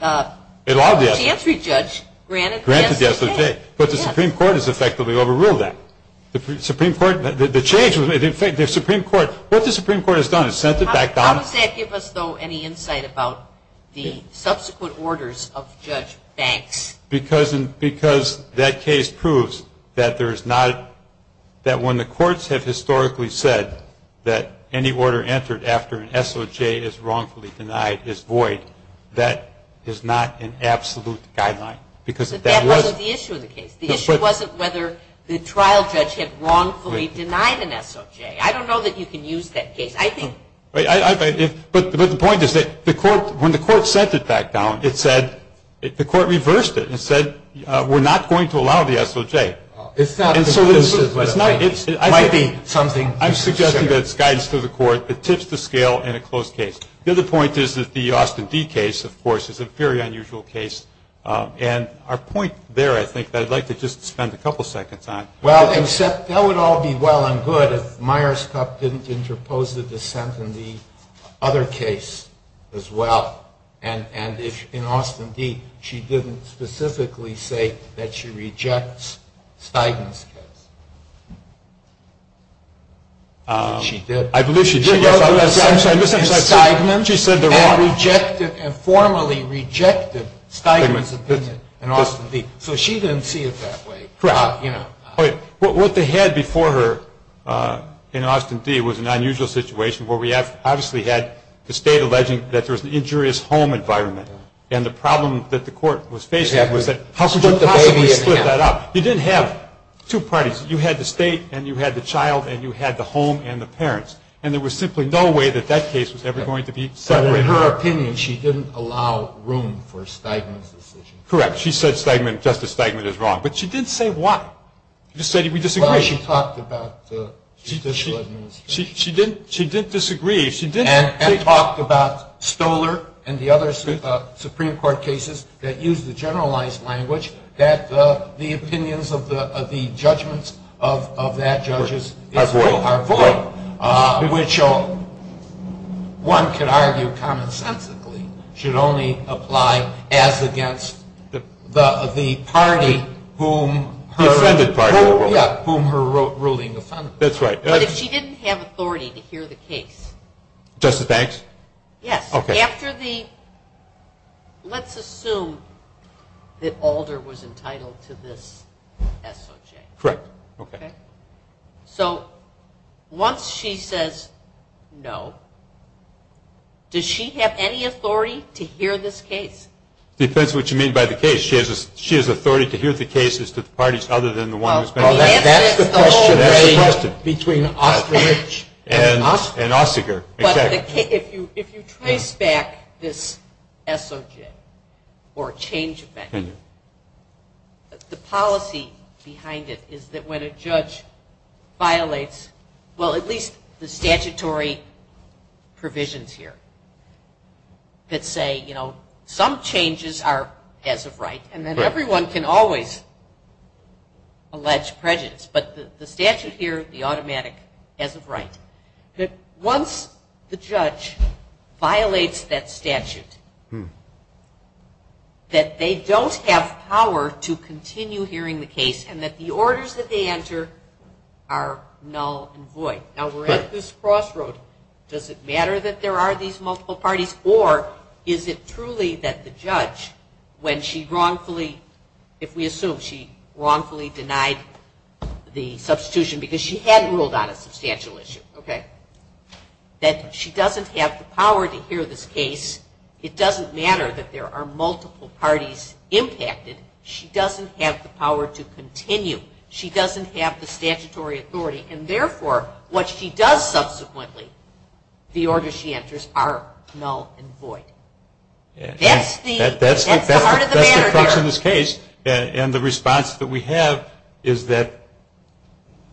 allowed the entry judge granted the SOJ. But the Supreme Court has effectively overruled that. The Supreme Court, the change, the Supreme Court, what the Supreme Court has done is sent it back down. How does that give us, though, any insight about the subsequent orders of Judge Banks? Because that case proves that there is not, that when the courts have historically said that any order entered after an SOJ is wrongfully denied is void, that is not an absolute guideline. But that wasn't the issue of the case. The issue wasn't whether the trial judge had wrongfully denied an SOJ. I don't know that you can use that case. But the point is that when the court sent it back down, it said, the court reversed it. It said we're not going to allow the SOJ. It's not the case, but it might be something. I'm suggesting that it's guidance to the court that tips the scale in a closed case. The other point is that the Austin D case, of course, is a very unusual case. And our point there, I think, I'd like to just spend a couple seconds on. Well, except that would all be well and good if Myers-Cuff didn't interpose the dissent in the other case as well, and if in Austin D she didn't specifically say that she rejects Steigman's case. She did. I believe she did. She said there were formally rejected Steigman's in Austin D. So she didn't see it that way. What they had before her in Austin D was an unusual situation where we obviously had the state alleging that there was an injurious home environment. And the problem that the court was faced with was that you didn't have two parties. You had the state and you had the child and you had the home and the parents. And there was simply no way that that case was ever going to be settled. So in her opinion, she didn't allow room for Steigman's decision. Correct. She said Justice Steigman is wrong. But she did say what? She said we disagree. Well, she talked about judicial administration. She did disagree. And she talked about Stoler and the other Supreme Court cases that use the generalized language that the opinions of the judgments of that judge are void. Which one could argue commonsensically should only apply as against the party whom her ruling was on. That's right. But she didn't have authority to hear the case. Justice Banks? Yes. Let's assume that Alder was entitled to this SOJ. Correct. Okay. So once she says no, does she have any authority to hear this case? Depends what you mean by the case. She has authority to hear the cases to the parties other than the one that's been settled. Well, that's the question. That's the question. Between Osterich and Osterger. If you trace back this SOJ or change of action, the policy behind it is that when a judge violates, well, at least the statutory provisions here that say, you know, some changes are as of right. And then everyone can always allege prejudice. But the statute here, the automatic as of right. That once the judge violates that statute, that they don't have power to continue hearing the case and that the orders that they enter are null and void. Now, we're at this crossroad. Does it matter that there are these multiple parties or is it truly that the judge, when she wrongfully, if we assume she wrongfully denied the substitution because she hadn't ruled on a substantial issue. Okay. That she doesn't have the power to hear this case. It doesn't matter that there are multiple parties impacted. She doesn't have the power to continue. She doesn't have the statutory authority. And therefore, what she does subsequently, the orders she enters are null and void. That's the heart of the matter here. And the response that we have is that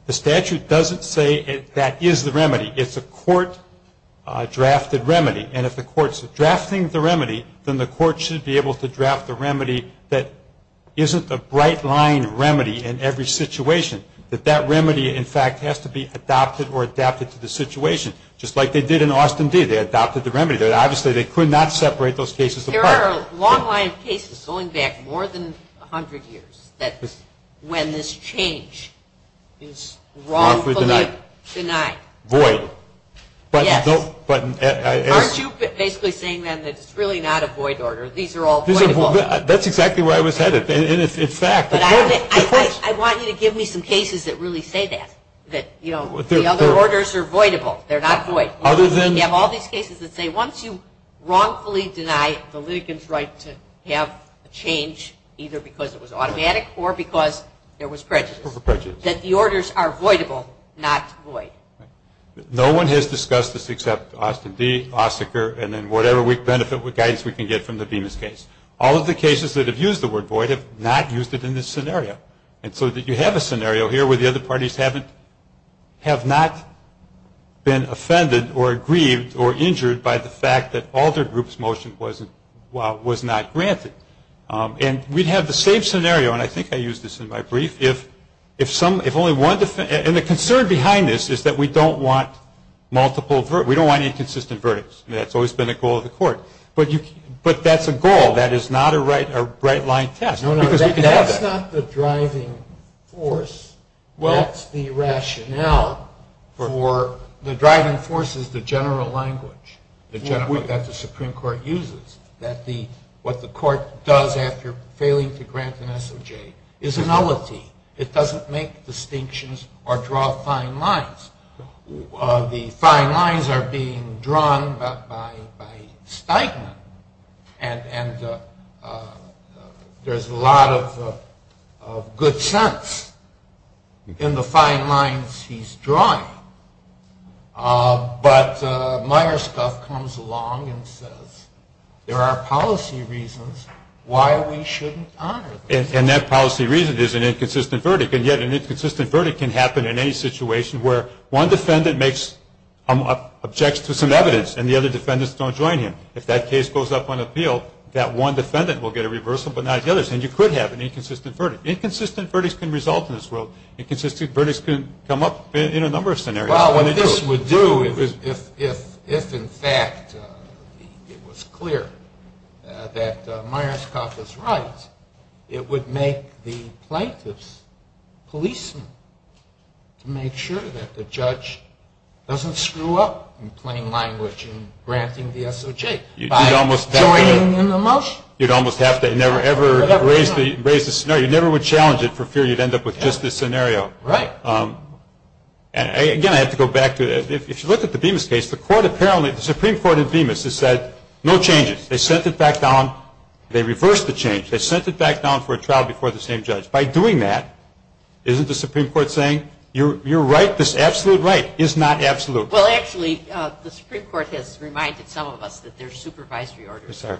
the statute doesn't say that that is the remedy. It's a court-drafted remedy. And if the court's drafting the remedy, then the court should be able to draft the remedy that isn't a bright-line remedy in every situation, that that remedy, in fact, has to be adopted or adapted to the situation, just like they did in Austin D. They adopted the remedy. Obviously, they could not separate those cases apart. There are long-line cases going back more than 100 years when this change is wrongfully denied. Void. Yes. Aren't you basically saying, then, that it's really not a void order? These are all voidable. That's exactly where I was headed. In fact, at first. I want you to give me some cases that really say that, that the other orders are voidable. They're not void. You have all these cases that say, once you wrongfully deny the litigant's right to have a change, either because it was automatic or because there was prejudice, that the orders are voidable, not void. No one has discussed this except Austin D., Osterker, and then whatever guidance we can get from the Venus case. All of the cases that have used the word void have not used it in this scenario. You have a scenario here where the other parties have not been offended or aggrieved or injured by the fact that all their group's motion was not granted. We'd have the same scenario, and I think I used this in my brief. The concern behind this is that we don't want inconsistent verdicts. That's always been a goal of the court. But that's a goal. That is not a right-line test. That's not the driving force. That's the rationale. The driving force is the general language that the Supreme Court uses, that what the court does after failing to grant an SOJ is a nullity. It doesn't make distinctions or draw fine lines. The fine lines are being drawn by Steinem, and there's a lot of good sense in the fine lines he's drawing. But Meyerstuff comes along and says, there are policy reasons why we shouldn't honor them. And that policy reason is an inconsistent verdict. And yet an inconsistent verdict can happen in any situation where one defendant makes objections to some evidence and the other defendants don't join him. If that case goes up on appeal, that one defendant will get a reversal but not the others, and you could have an inconsistent verdict. Inconsistent verdicts can result in this world. Inconsistent verdicts can come up in a number of scenarios. Well, what this would do, if in fact it was clear that Meyerstuff is right, it would make the plaintiffs' policemen to make sure that the judge doesn't screw up in plain language in granting the SOJ by joining in the motion. You'd almost have to never, ever raise the scenario. You never would challenge it for fear you'd end up with just this scenario. Right. Again, I have to go back. If you look at the Bemis case, the Supreme Court of Bemis has said, no changes. They sent it back down. They reversed the change. They sent it back down for a trial before the same judge. By doing that, isn't the Supreme Court saying, you're right, this absolute right is not absolute. Well, actually, the Supreme Court has reminded some of us that there are supervisory orders. Yes, sir.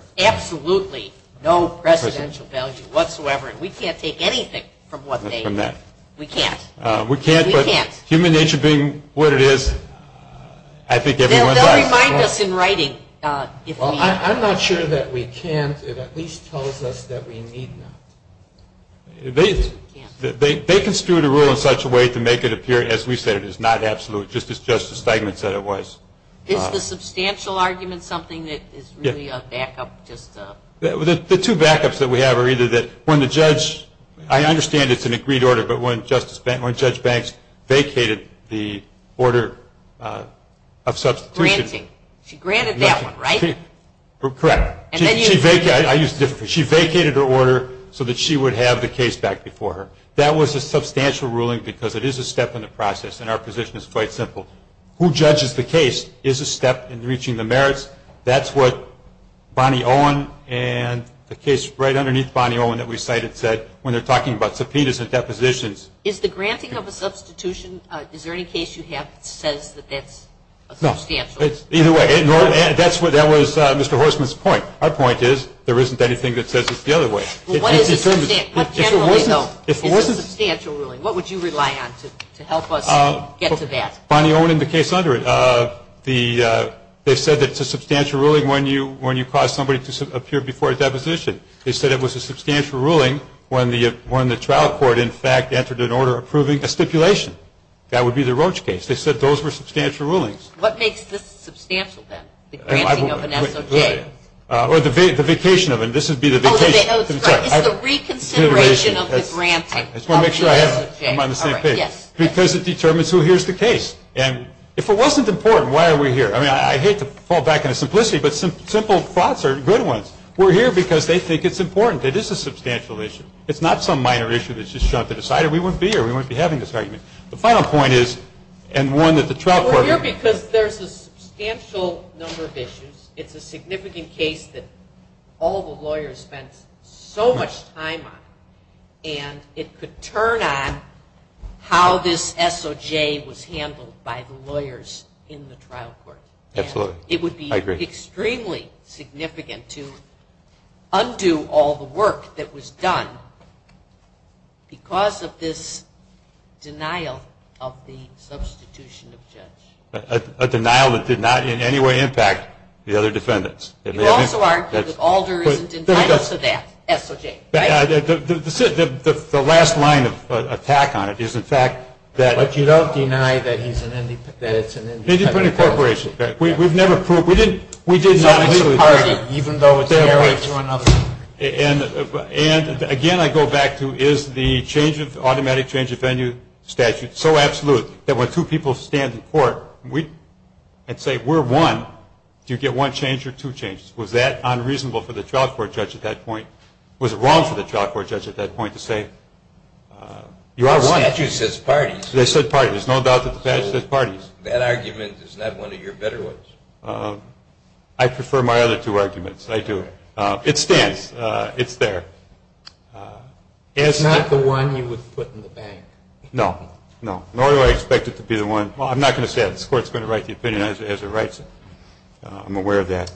And we can't take anything from what they have said. We can't take anything from that. We can't. We can't, but human nature being what it is, I think that everyone can. It reminds us in writing. Well, I'm not sure that we can. It at least tells us that we need to. They construed a rule in such a way to make it appear, as we said, it's not absolute, just as Justice Feigman said it was. Is the substantial argument something that is really a backup? The two backups that we have are either that when the judge, I understand it's an agreed order, but when Judge Banks vacated the order of such... Granting. She granted that one, right? Correct. She vacated her order so that she would have the case back before her. That was a substantial ruling because it is a step in the process, and our position is quite simple. Who judges the case is a step in reaching the merits. That's what Bonnie Owen and the case right underneath Bonnie Owen that we cited said when they're talking about subpoenas and depositions. Is the granting of a substitution, is there any case you have that says that that's a substantial? No. Either way, that was Mr. Horstman's point. Our point is there isn't anything that says it's the other way. If it wasn't... If it wasn't a substantial ruling, what would you rely on to help us get to that? Bonnie Owen and the case under it. They said it's a substantial ruling when you cause somebody to appear before a deposition. They said it was a substantial ruling when the trial court, in fact, entered an order approving a stipulation. That would be the Roach case. They said those were substantial rulings. What makes this substantial then? The granting of an application. Or the vacation of it. This would be the vacation. It's the reconsideration of the grant. I just want to make sure I'm on the same page. Because it determines who hears the case. And if it wasn't important, why are we here? I hate to fall back on the simplicity, but simple thoughts are good ones. We're here because they think it's important. It is a substantial issue. It's not some minor issue that's just shoved to the side. We wouldn't be here. We wouldn't be having this argument. The final point is, and one that the trial court... We're here because there's a substantial number of issues. It's a significant case that all the lawyers spent so much time on. And it could turn on how this SOJ was handled by the lawyers in the trial court. Absolutely. I agree. It would be extremely significant to undo all the work that was done because of this denial of the substitution of judge. A denial that did not in any way impact the other defendants. You also aren't because Alder isn't entitled to that SOJ, right? The last line of attack on it is, in fact, that... But you don't deny that it's an independent corporation. We've never proved. We did not do it. And, again, I go back to, is the automatic change of venue statute so absolute that when two people stand in court and say, if we're one, do you get one change or two changes? Was that unreasonable for the trial court judge at that point? Was it wrong for the trial court judge at that point to say, you are one? The statute says parties. They said parties. There's no doubt that the statute says parties. That argument is not one of your better ones. I prefer my other two arguments. I do. It stands. It's there. It's not the one you would put in the bank. No. No. Nor do I expect it to be the one... Well, I'm not going to say it. This court is going to write the opinion as it writes it. I'm aware of that.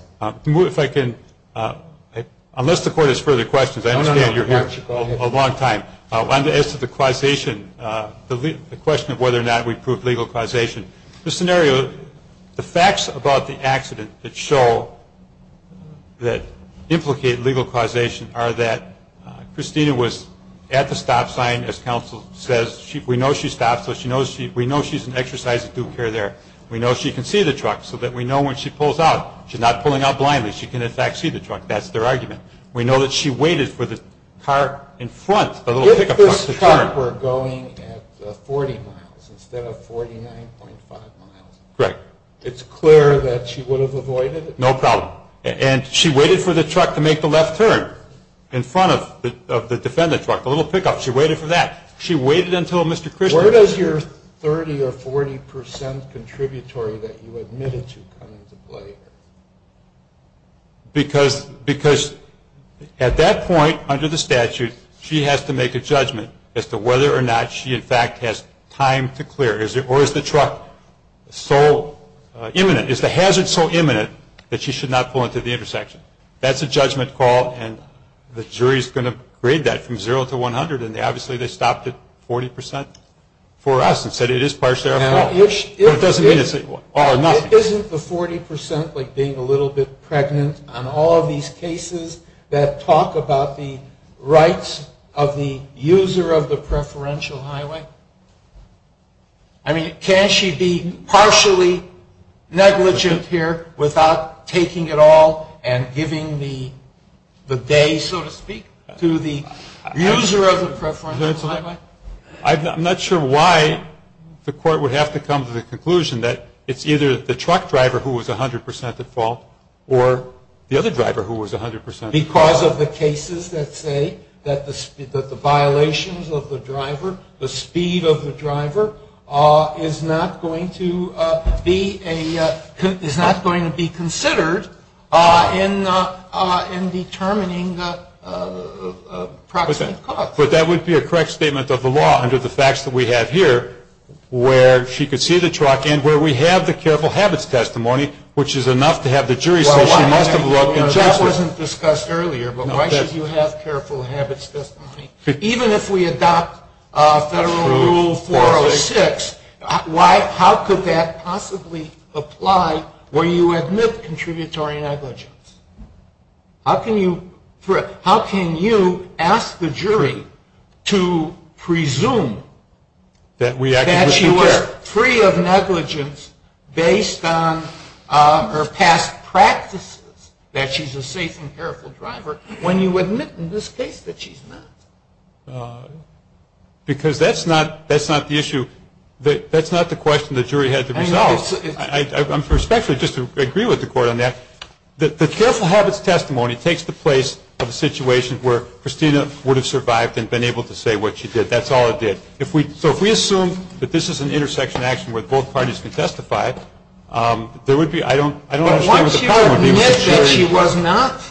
If I can, unless the court has further questions, I understand you're here a long time. As to the causation, the question of whether or not we proved legal causation, the scenario, the facts about the accident that show that implicate legal causation are that Christina was at the stop sign, and as counsel says, we know she stopped, so we know she's in exercise of due care there. We know she can see the truck, so that we know when she pulls out, she's not pulling out blindly. She can, in fact, see the truck. That's their argument. We know that she waited for the car in front, a little pickup truck. If this car were going at 40 miles instead of 49.5 miles, it's clear that she would have avoided it? No problem. And she waited for the truck to make the left turn in front of the defendant truck, the little pickup. She waited for that. She waited until Mr. Christian. Where does your 30% or 40% contributory that you admitted to come into play? Because at that point, under the statute, she has to make a judgment as to whether or not she, in fact, has time to clear. Or is the truck so imminent, is the hazard so imminent that she should not pull into the intersection? That's a judgment call, and the jury is going to grade that from 0 to 100. And obviously, they stopped at 40% for us and said it is partially our fault. But it doesn't mean it's all or nothing. Isn't the 40% like being a little bit pregnant on all of these cases that talk about the rights of the user of the preferential highway? I mean, can't she be partially negligent here without taking it all and giving the day, so to speak, to the user of the preferential highway? I'm not sure why the court would have to come to the conclusion that it's either the truck driver who was 100% at fault or the other driver who was 100% at fault. Because of the cases that say that the violations of the driver, the speed of the driver, is not going to be considered in determining the proximate cause. But that would be a correct statement of the law under the facts that we have here where she could see the truck and where we have the careful habits testimony, which is enough to have the jury say she must have broken justice. That wasn't discussed earlier, but why should you have careful habits testimony? Even if we adopt Federal Rule 406, how could that possibly apply where you admit contributory negligence? How can you ask the jury to presume that she was free of negligence based on her past practices, that she's a safe and careful driver, when you admit in this case that she's not? Because that's not the issue. That's not the question the jury has to resolve. I'm perspective, just to agree with the court on that. The careful habits testimony takes the place of the situation where Christina would have survived and been able to say what she did. That's all it did. So if we assume that this is an intersection action where both parties can testify, I don't understand what the problem is. But once you admit that she was not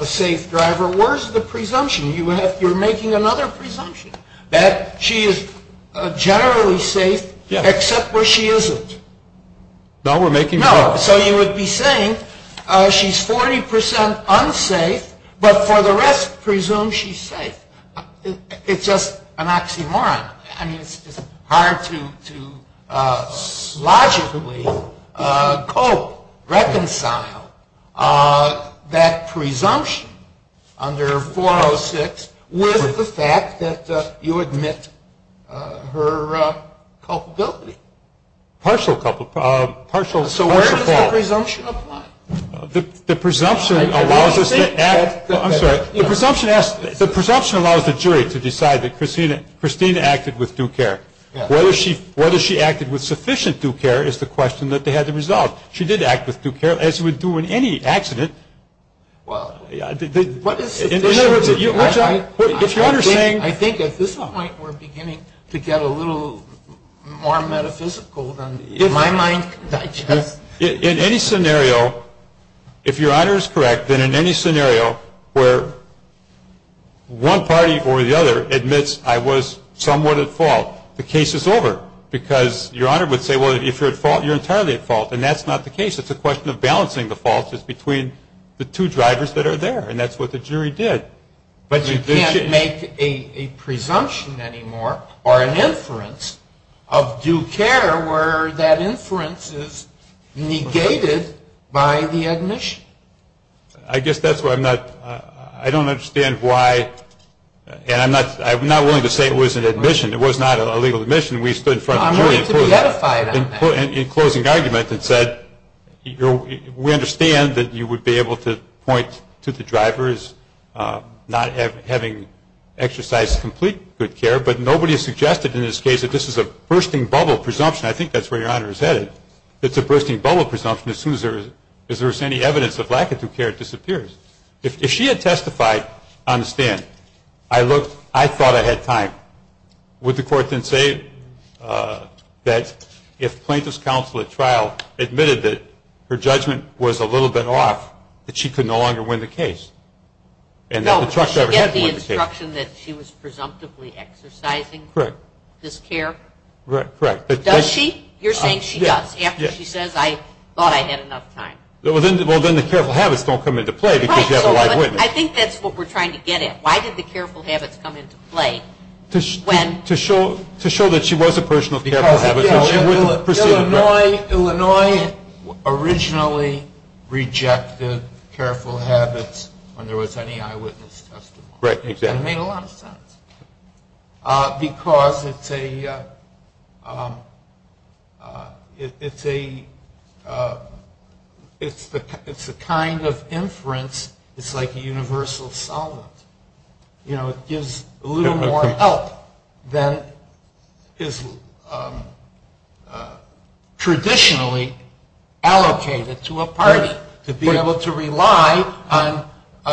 a safe driver, where's the presumption? You're making another presumption, that she is generally safe, except where she isn't. No, we're making... No, so you would be saying she's 40% unsafe, but for the rest presume she's safe. It's just an oxymoron. I mean, it's hard to logically reconcile that presumption under 406 with the fact that you admit her culpability. Partial culpability. So where does that presumption apply? The presumption allows the jury to decide that Christina acted with due care. Whether she acted with sufficient due care is the question that they had to resolve. She did act with due care, as you would do in any accident. I think at this point we're beginning to get a little more metaphysical than in my mind. In any scenario, if your honor is correct, then in any scenario where one party or the other admits I was somewhat at fault, the case is over. Because your honor would say, well, if you're at fault, you're entirely at fault. And that's not the case. It's a question of balancing the faults between the two drivers that are there. And that's what the jury did. But you can't make a presumption anymore or an inference of due care where that inference is negated by the admission. I guess that's why I'm not – I don't understand why – and I'm not willing to say it was an admission. It was not a legal admission. We stood in front of the jury in closing arguments and said, we understand that you would be able to point to the drivers not having exercised complete due care, but nobody has suggested in this case that this is a bursting bubble presumption. I think that's where your honor is headed. It's a bursting bubble presumption as soon as there is any evidence of lack of due care, it disappears. If she had testified, I understand. I thought I had time. Would the court then say that if plaintiff's counsel at trial admitted that her judgment was a little bit off, that she could no longer win the case? No. Did she get the instruction that she was presumptively exercising? Correct. This care? Correct. Does she? You're saying she does. After she says, I thought I had enough time. Well, then the careful habits don't come into play because you have the right witness. I think that's what we're trying to get at. Why did the careful habits come into play? To show that she was a person of careful habits. Illinois originally rejected careful habits when there was any eyewitness testimony. Correct. It made a lot of sense. Because it's a kind of inference. It's like a universal solvent. It gives a little more help than is traditionally allocated to a person. To be able to rely on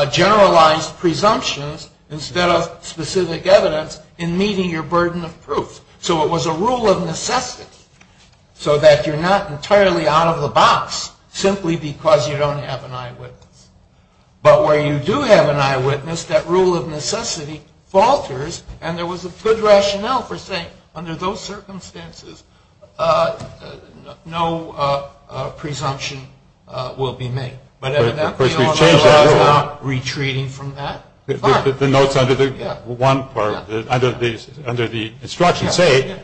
generalized presumptions instead of specific evidence in meeting your burden of proof. So it was a rule of necessity. So that you're not entirely out of the box simply because you don't have an eyewitness. But where you do have an eyewitness, that rule of necessity falters, and there was a good rationale for saying, under those circumstances, no presumption will be made. But I'm not retreating from that. The notes under the instructions say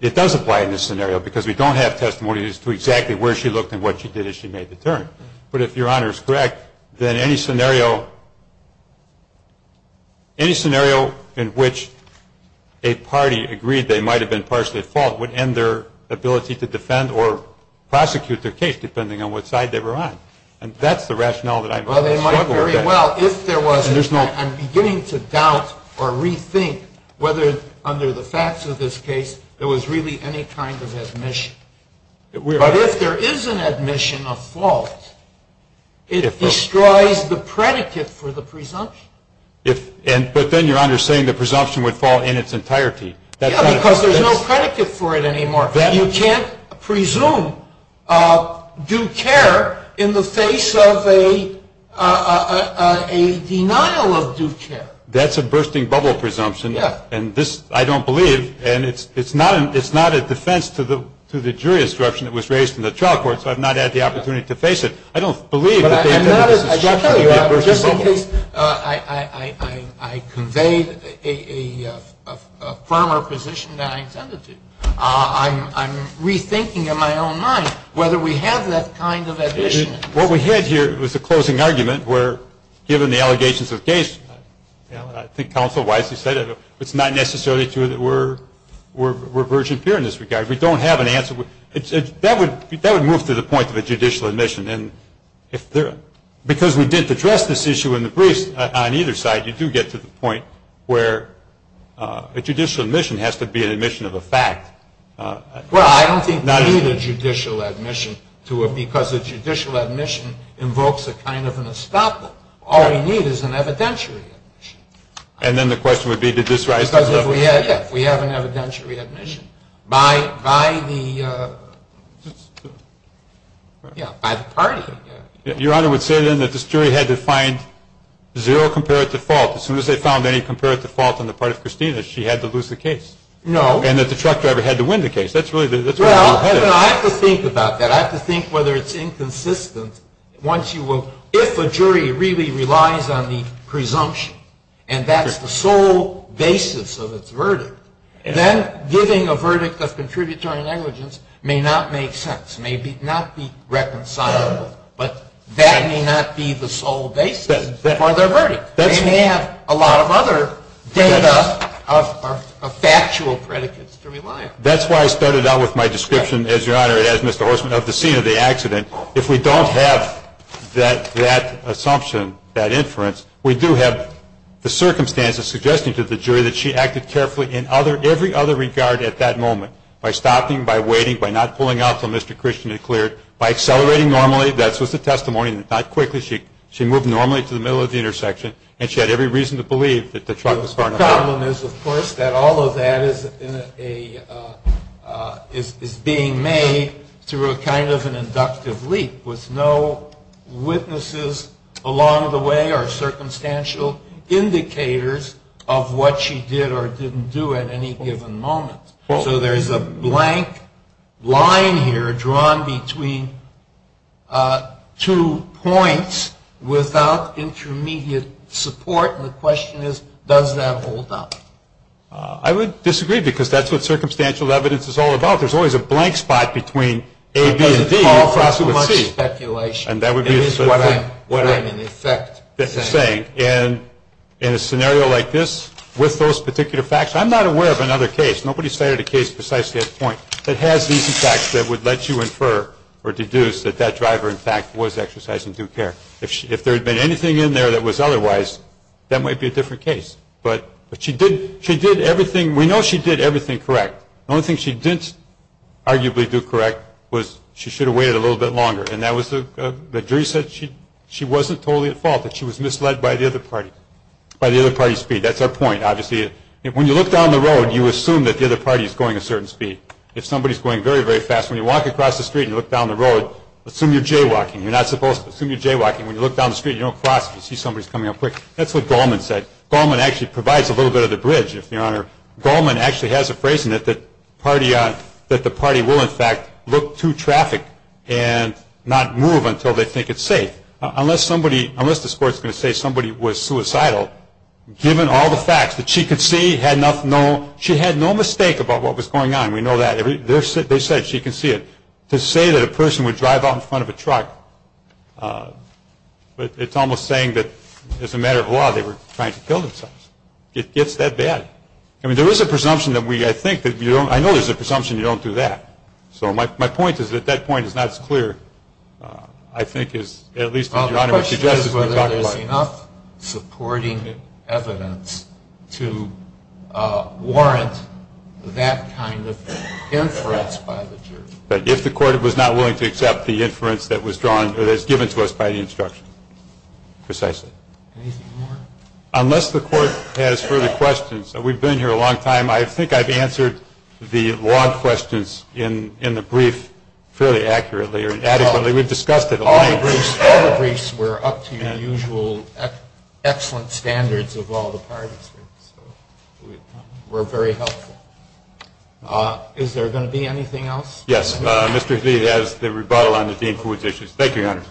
it does apply in this scenario because we don't have testimonies to exactly where she looked and what she did as she made the turn. But if Your Honor is correct, then any scenario in which a party agreed they might have been partially at fault would end their ability to defend or prosecute the case depending on what side they were on. And that's the rationale that I'm struggling with. Well, they might very well. I'm beginning to doubt or rethink whether under the facts of this case there was really any kind of admission. But if there is an admission of fault, it destroys the predicate for the presumption. But then Your Honor is saying the presumption would fall in its entirety. Yeah, because there's no predicate for it anymore. You can't presume due care in the face of a denial of due care. That's a bursting bubble presumption. I don't believe, and it's not a defense to the jury instruction that was raised in the trial court, so I've not had the opportunity to face it. I don't believe. I convey a firmer position than I intended to. I'm rethinking in my own mind whether we have that kind of admission. What we had here was a closing argument where, given the allegations of case, I think Counsel Weiss has said it, it's not necessarily true that we're virgin pure in this regard. We don't have an answer. That would move to the point of a judicial admission. And because we didn't address this issue in the briefs on either side, you do get to the point where a judicial admission has to be an admission of a fact. Well, I don't think neither judicial admission to it, because a judicial admission invokes a kind of an establishment. All we need is an evidentiary admission. And then the question would be to just rise above it. Because if we have an evidentiary admission, by the partisan case. Your Honor would say then that this jury had to find zero comparative default. As soon as they found any comparative default on the part of Christina, she had to lose the case. No. And that the truck driver had to win the case. That's really where we're headed. Well, I have to think about that. I have to think whether it's inconsistent. If a jury really relies on the presumption, and that is the sole basis of its verdict, then giving a verdict of contributory negligence may not make sense, may not be reconcilable. But that may not be the sole basis for their verdict. They may have a lot of other data of factual predicates to rely on. That's why I started out with my description, as Your Honor, as Mr. Horstman, of the scene of the accident. If we don't have that assumption, that inference, we do have the circumstances suggesting to the jury that she acted carefully in every other regard at that moment. By stopping, by waiting, by not pulling out until Mr. Christian had cleared. By accelerating normally. That's just a testimony. Not quickly. She moved normally to the middle of the intersection. And she had every reason to believe that the truck was going to stop. The problem is, of course, that all of that is being made through a kind of an inductive leap, with no witnesses along the way or circumstantial indicators of what she did or didn't do at any given moment. So there's a blank line here drawn between two points without intermediate support. And the question is, does that hold up? I would disagree, because that's what circumstantial evidence is all about. There's always a blank spot between A, B, and D. There's too much speculation. That's what I'm saying. In a scenario like this, with those particular facts, I'm not aware of another case. Nobody's cited a case precisely at this point that has these facts that would let you infer or deduce that that driver, in fact, was exercising due care. If there had been anything in there that was otherwise, that might be a different case. But she did everything. We know she did everything correct. The only thing she didn't arguably do correct was she should have waited a little bit longer. And the jury said she wasn't totally at fault, that she was misled by the other party, by the other party's speed. That's our point, obviously. When you look down the road, you assume that the other party is going a certain speed. If somebody's going very, very fast, when you walk across the street and look down the road, assume you're jaywalking. You're not supposed to. Assume you're jaywalking. When you look down the street and you don't cross, you see somebody's coming up quick. That's what Goldman said. Goldman actually provides a little bit of the bridge, if you honor. Goldman actually has a phrase in it that the party will, in fact, look through traffic and not move until they think it's safe. Unless the court's going to say somebody was suicidal, given all the facts, that she had no mistake about what was going on. We know that. They said she could see it. To say that a person would drive out in front of a truck, it's almost saying that, as a matter of law, they were trying to kill themselves. It gets that bad. I mean, there is a presumption that we think that you don't. I know there's a presumption you don't do that. So my point is that that point is not as clear, I think, as at least what your Honor would suggest. This is where there's enough supporting evidence to warrant that kind of inference by the jury. But if the court was not willing to accept the inference that was given to us by the instruction, precisely. Unless the court has further questions, we've been here a long time. I think I've answered the long questions in the brief fairly accurately or adequately. We've discussed it a lot. All the briefs were up to the usual excellent standards of all the parties. We're very helpful. Is there going to be anything else? Yes. Mr. Z has the rebuttal on the Dean Ford's issues. Thank you, Your Honor.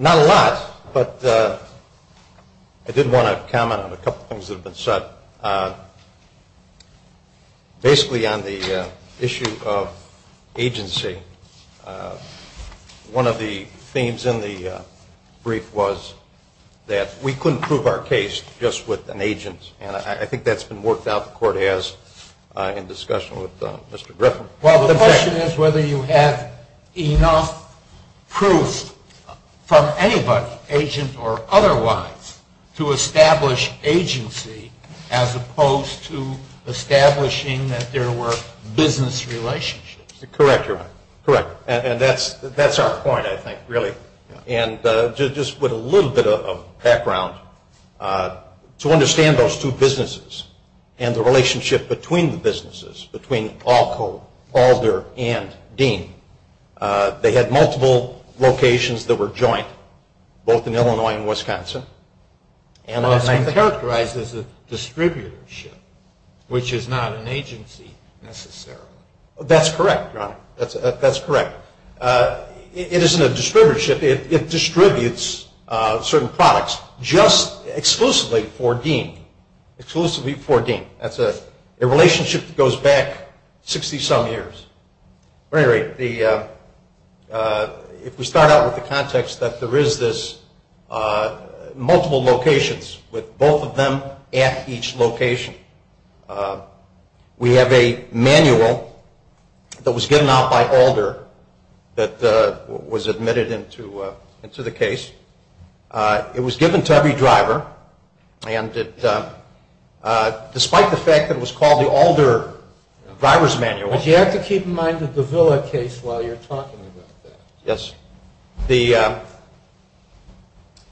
Not a lot, but I did want to comment on a couple of things that have been said. Basically on the issue of agency, one of the themes in the brief was that we couldn't prove our case just with an agent. And I think that's been worked out, the court has, in discussion with Mr. Griffin. Well, the question is whether you have enough proof from anybody, agent or otherwise, to establish agency as opposed to establishing that there were business relationships. Correct, Your Honor. Correct. And that's our point, I think, really. And just with a little bit of background, to understand those two businesses and the relationship between the businesses, between Alco, Balder, and Dean. They had multiple locations that were joint, both in Illinois and Wisconsin. And that's characterized as a distributorship, which is not an agency necessarily. That's correct, Your Honor. That's correct. It isn't a distributorship. It distributes certain products just exclusively for Dean. Exclusively for Dean. That's a relationship that goes back 60-some years. At any rate, if we start out with the context that there is this multiple locations with both of them at each location. We have a manual that was given out by Alder that was admitted into the case. It was given to every driver. And despite the fact that it was called the Alder Driver's Manual. Would you have to keep in mind the Davila case while you're talking about that? Yes.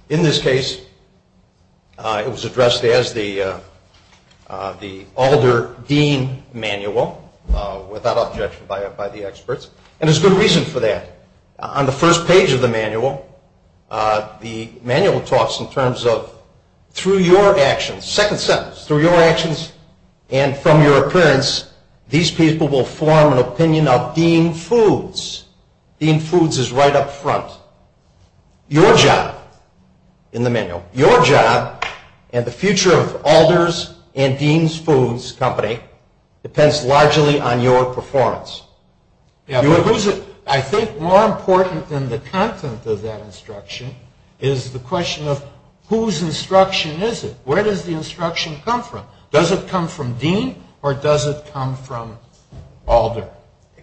In this case, it was addressed as the Alder Dean Manual, without objection by the experts. And there's good reason for that. On the first page of the manual, the manual talks in terms of through your actions, second sentence, through your actions and from your appearance, these people will form an opinion of Dean Foods. Dean Foods is right up front. Your job in the manual, your job and the future of Alder's and Dean's Foods Company depends largely on your performance. I think more important than the content of that instruction is the question of whose instruction is it? Where does the instruction come from? Does it come from Dean or does it come from Alder?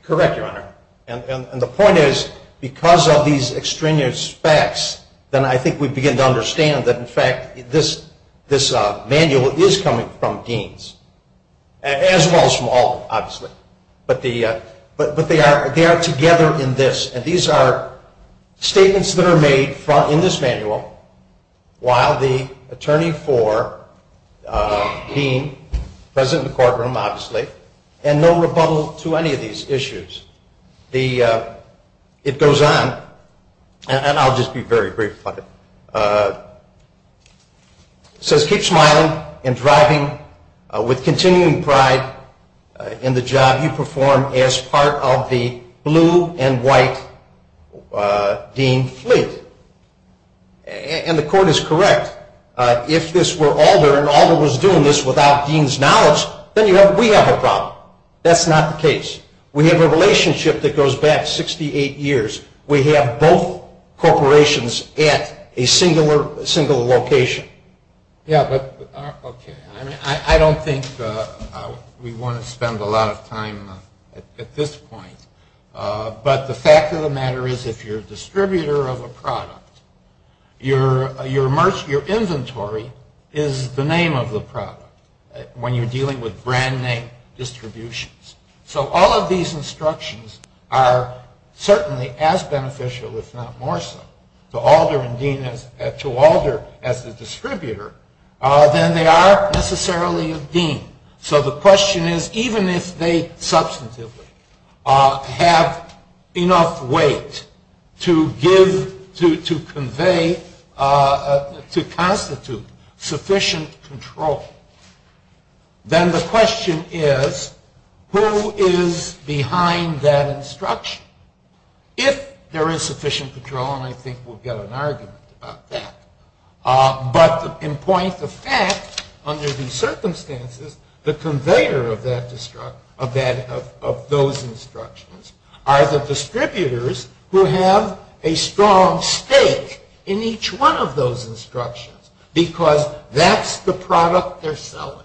Correct, Your Honor. And the point is, because of these extraneous facts, then I think we begin to understand that, in fact, this manual is coming from Dean's. As well as from Alder, obviously. But they are together in this. And these are statements that are made in this manual while the attorney for Dean, president of the courtroom, obviously, and no rebuttal to any of these issues. It goes on. And I'll just be very brief about it. It says, keep smiling and driving with continuing pride in the job you perform as part of the blue and white Dean fleet. And the court is correct. If this were Alder and Alder was doing this without Dean's knowledge, then we have a problem. That's not the case. We have a relationship that goes back 68 years. We have both corporations at a single location. Yeah, okay. I don't think we want to spend a lot of time at this point. But the fact of the matter is, if you're a distributor of a product, your inventory is the name of the product when you're dealing with brand name distributions. So all of these instructions are certainly as beneficial, if not more so, to Alder as a distributor than they are necessarily of Dean. So the question is, even if they substantively have enough weight to give, to convey, to constitute sufficient control, then the question is, who is behind that instruction? If there is sufficient control, and I think we'll get an argument about that. But in point of fact, under these circumstances, the conveyor of those instructions are the distributors who have a strong stake in each one of those instructions. Because that's the product they're selling.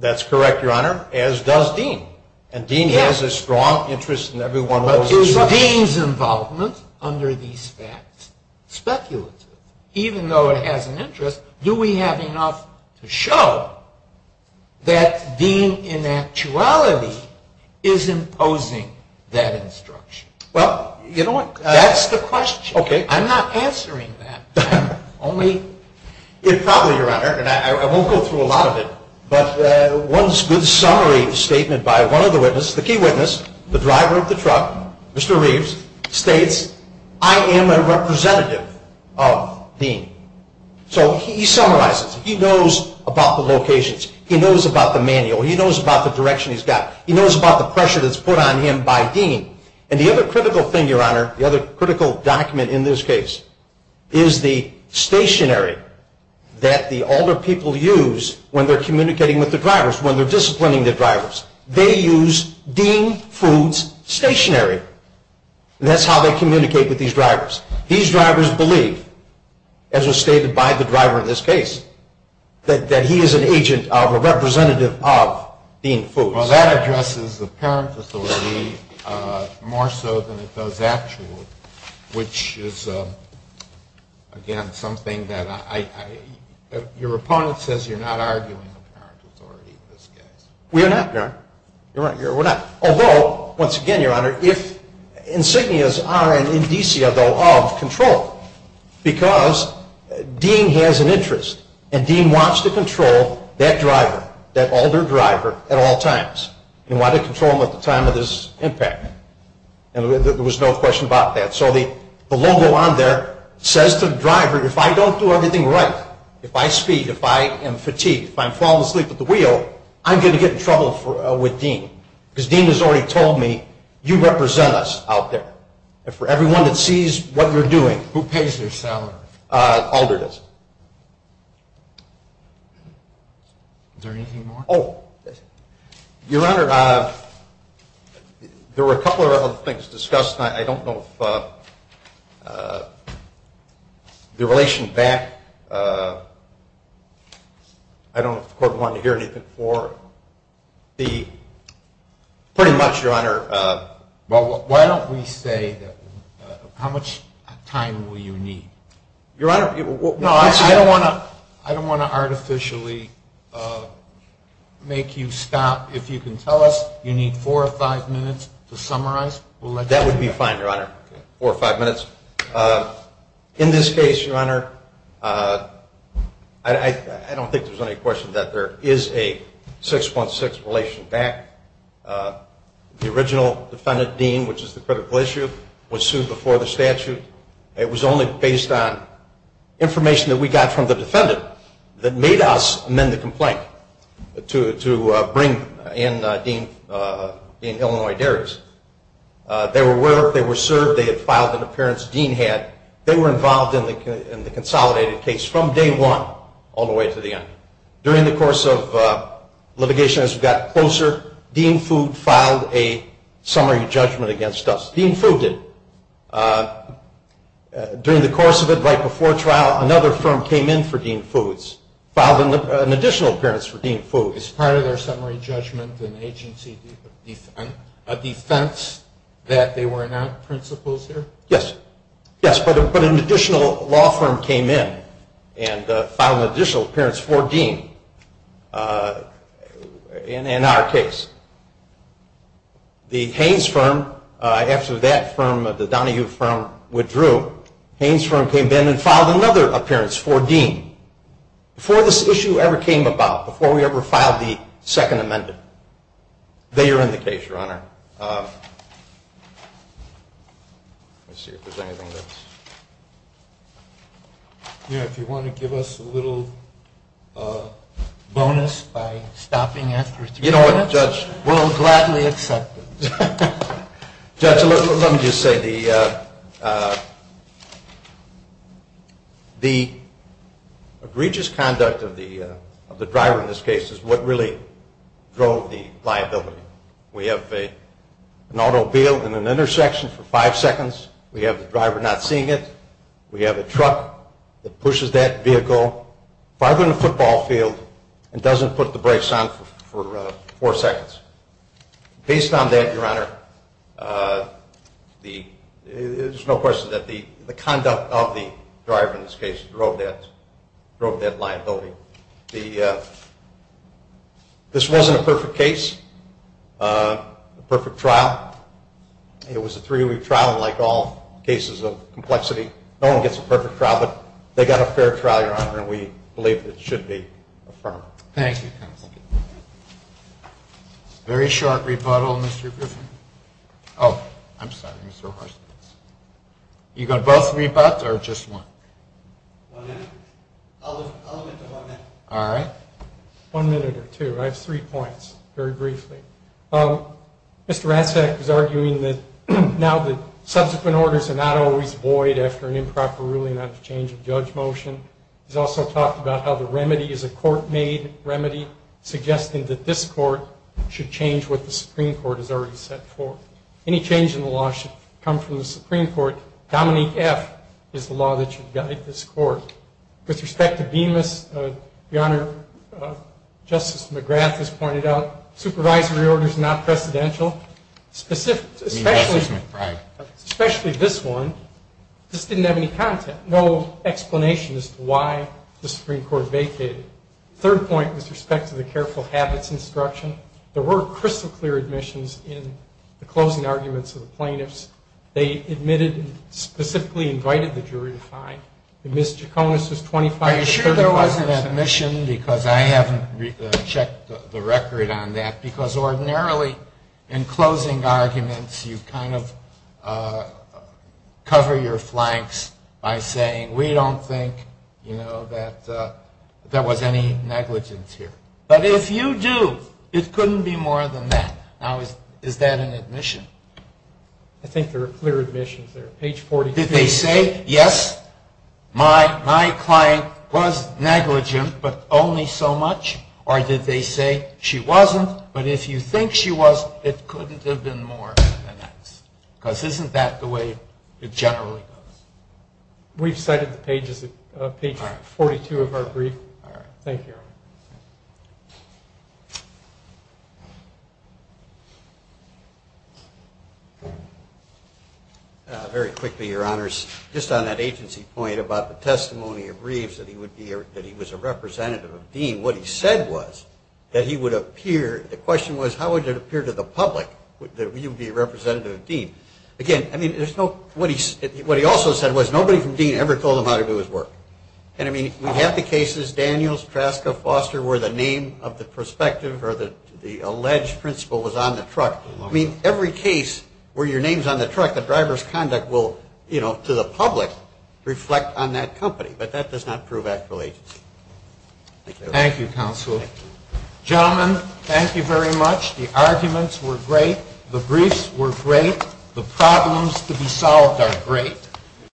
That's correct, Your Honor, as does Dean. And Dean has a strong interest in every one of those instructions. Is Dean's involvement under these facts speculative? Even though it has an interest, do we have enough to show that Dean in actuality is imposing that instruction? Well, you know what, that's the question. I'm not answering that. Only, if probably, Your Honor, and I won't go through a lot of it, but one good summary statement by one of the witnesses, the key witness, the driver of the truck, Mr. Reeves, states, I am a representative of Dean. So he summarizes. He knows about the locations. He knows about the manual. He knows about the direction he's got. He knows about the pressure that's put on him by Dean. And the other critical thing, Your Honor, the other critical document in this case, is the stationary that the older people use when they're communicating with the drivers, when they're disciplining the drivers. They use Dean Foote's stationary. That's how they communicate with these drivers. These drivers believe, as was stated by the driver in this case, that he is an agent, a representative of Dean Foote. Well, that addresses the parent authority more so than it does actually, which is, again, something that your opponent says you're not arguing with the parent authority. We're not, Your Honor. You're right. We're not. Although, once again, Your Honor, if insignias are an indicia, though, of control, because Dean has an interest, and Dean wants to control that driver, that older driver, at all times. He wanted to control him at the time of his impact. And there was no question about that. So the logo on there says to the driver, if I don't do everything right, if I speed, if I am fatigued, if I'm falling asleep at the wheel, I'm going to get in trouble with Dean, because Dean has already told me, you represent us out there. And for everyone that sees what we're doing, who pays their salary? All do this. Is there anything more? Oh. Your Honor, there were a couple of other things discussed, and I don't know if the relation back, I don't want to hear anything more. Pretty much, Your Honor, why don't we say how much time will you need? Your Honor, I don't want to artificially make you stop. If you can tell us you need four or five minutes to summarize, we'll let you go. That would be fine, Your Honor, four or five minutes. In this case, Your Honor, I don't think there's any question that there is a 6-1-6 relation back. The original defendant, Dean, which is the critical issue, was sued before the statute. It was only based on information that we got from the defendant that made us amend the complaint to bring in Dean in Illinois Dairies. They were served. They had filed an appearance. Dean had. They were involved in the consolidated case from day one all the way to the end. During the course of litigation, as we got closer, Dean Food filed a summary judgment against us. Dean Food did. During the course of it, right before trial, another firm came in for Dean Food, filed an additional appearance for Dean Food. Is part of their summary judgment an agency defense, a defense that they were not principals there? Yes. Yes, but an additional law firm came in and filed an additional appearance for Dean in our case. The Haines firm, after that firm, the Donahue firm, withdrew. Haines firm came in and filed another appearance for Dean. Before this issue ever came about, before we ever filed the second amendment, they were in the case, Your Honor. Yeah, if you want to give us a little bonus by stopping it for three minutes. You know what, Judge? We'll gladly accept it. Judge, let me just say the egregious conduct of the driver in this case is what really drove the liability. We have an automobile in an intersection for five seconds. We have the driver not seeing it. We have a truck that pushes that vehicle farther than the football field and doesn't put the brakes on for four seconds. Based on that, Your Honor, there's no question that the conduct of the driver in this case drove that liability. This wasn't a perfect case, a perfect trial. It was a three-week trial, like all cases of complexity. No one gets a perfect trial, but they got a fair trial, Your Honor, and we believe it should be affirmed. Thank you. Very short rebuttal, Mr. Griffin. Oh, I'm sorry, Mr. Horst. You got both rebuts or just one? One minute. I'll wait a moment. All right. One minute or two, right? Three points, very briefly. Mr. Rancek is arguing that now the subsequent orders are not always void after an improper ruling, after a change of judge motion. He's also talked about how the remedy is a court-made remedy, suggesting that this court should change what the Supreme Court has already set forth. Any change in the law should come from the Supreme Court. Dominant F is the law that should guide this court. With respect to DEMAS, Your Honor, Justice McGrath has pointed out, supervisory order is not precedential, especially this one. This didn't have any content, no explanation as to why the Supreme Court vacated it. The third point with respect to the careful habits instruction, there were crystal clear admissions in the closing arguments of the plaintiffs. They admitted and specifically invited the jury to sign. Ms. Chaconis is 25 years old. Are you sure there wasn't an admission, because I haven't checked the record on that, because ordinarily, in closing arguments, you kind of cover your flanks by saying, we don't think that there was any negligence here. But if you do, it couldn't be more than that. Now, is that an admission? I think there are clear admissions there. Did they say, yes, my client was negligent, but only so much? Or did they say, she wasn't, but if you think she wasn't, it couldn't have been more than that? Because isn't that the way it generally goes? We've cited the pages of page 42 of our brief. All right. Thank you. Very quickly, Your Honors, just on that agency point about the testimony of Reeves, that he was a representative of Dean, what he said was that he would appear, the question was, how would it appear to the public that he would be a representative of Dean? Again, what he also said was, nobody from Dean ever told him how to do his work. And we have the cases, Daniels, Traska, Foster, where the name of the prospective or the alleged principal was on the truck. I mean, every case where your name's on the truck, the driver's conduct will, to the public, reflect on that company, but that does not prove actual agency. Thank you, Counselor. Gentlemen, thank you very much. The arguments were great. The briefs were great. The problems to be solved are great.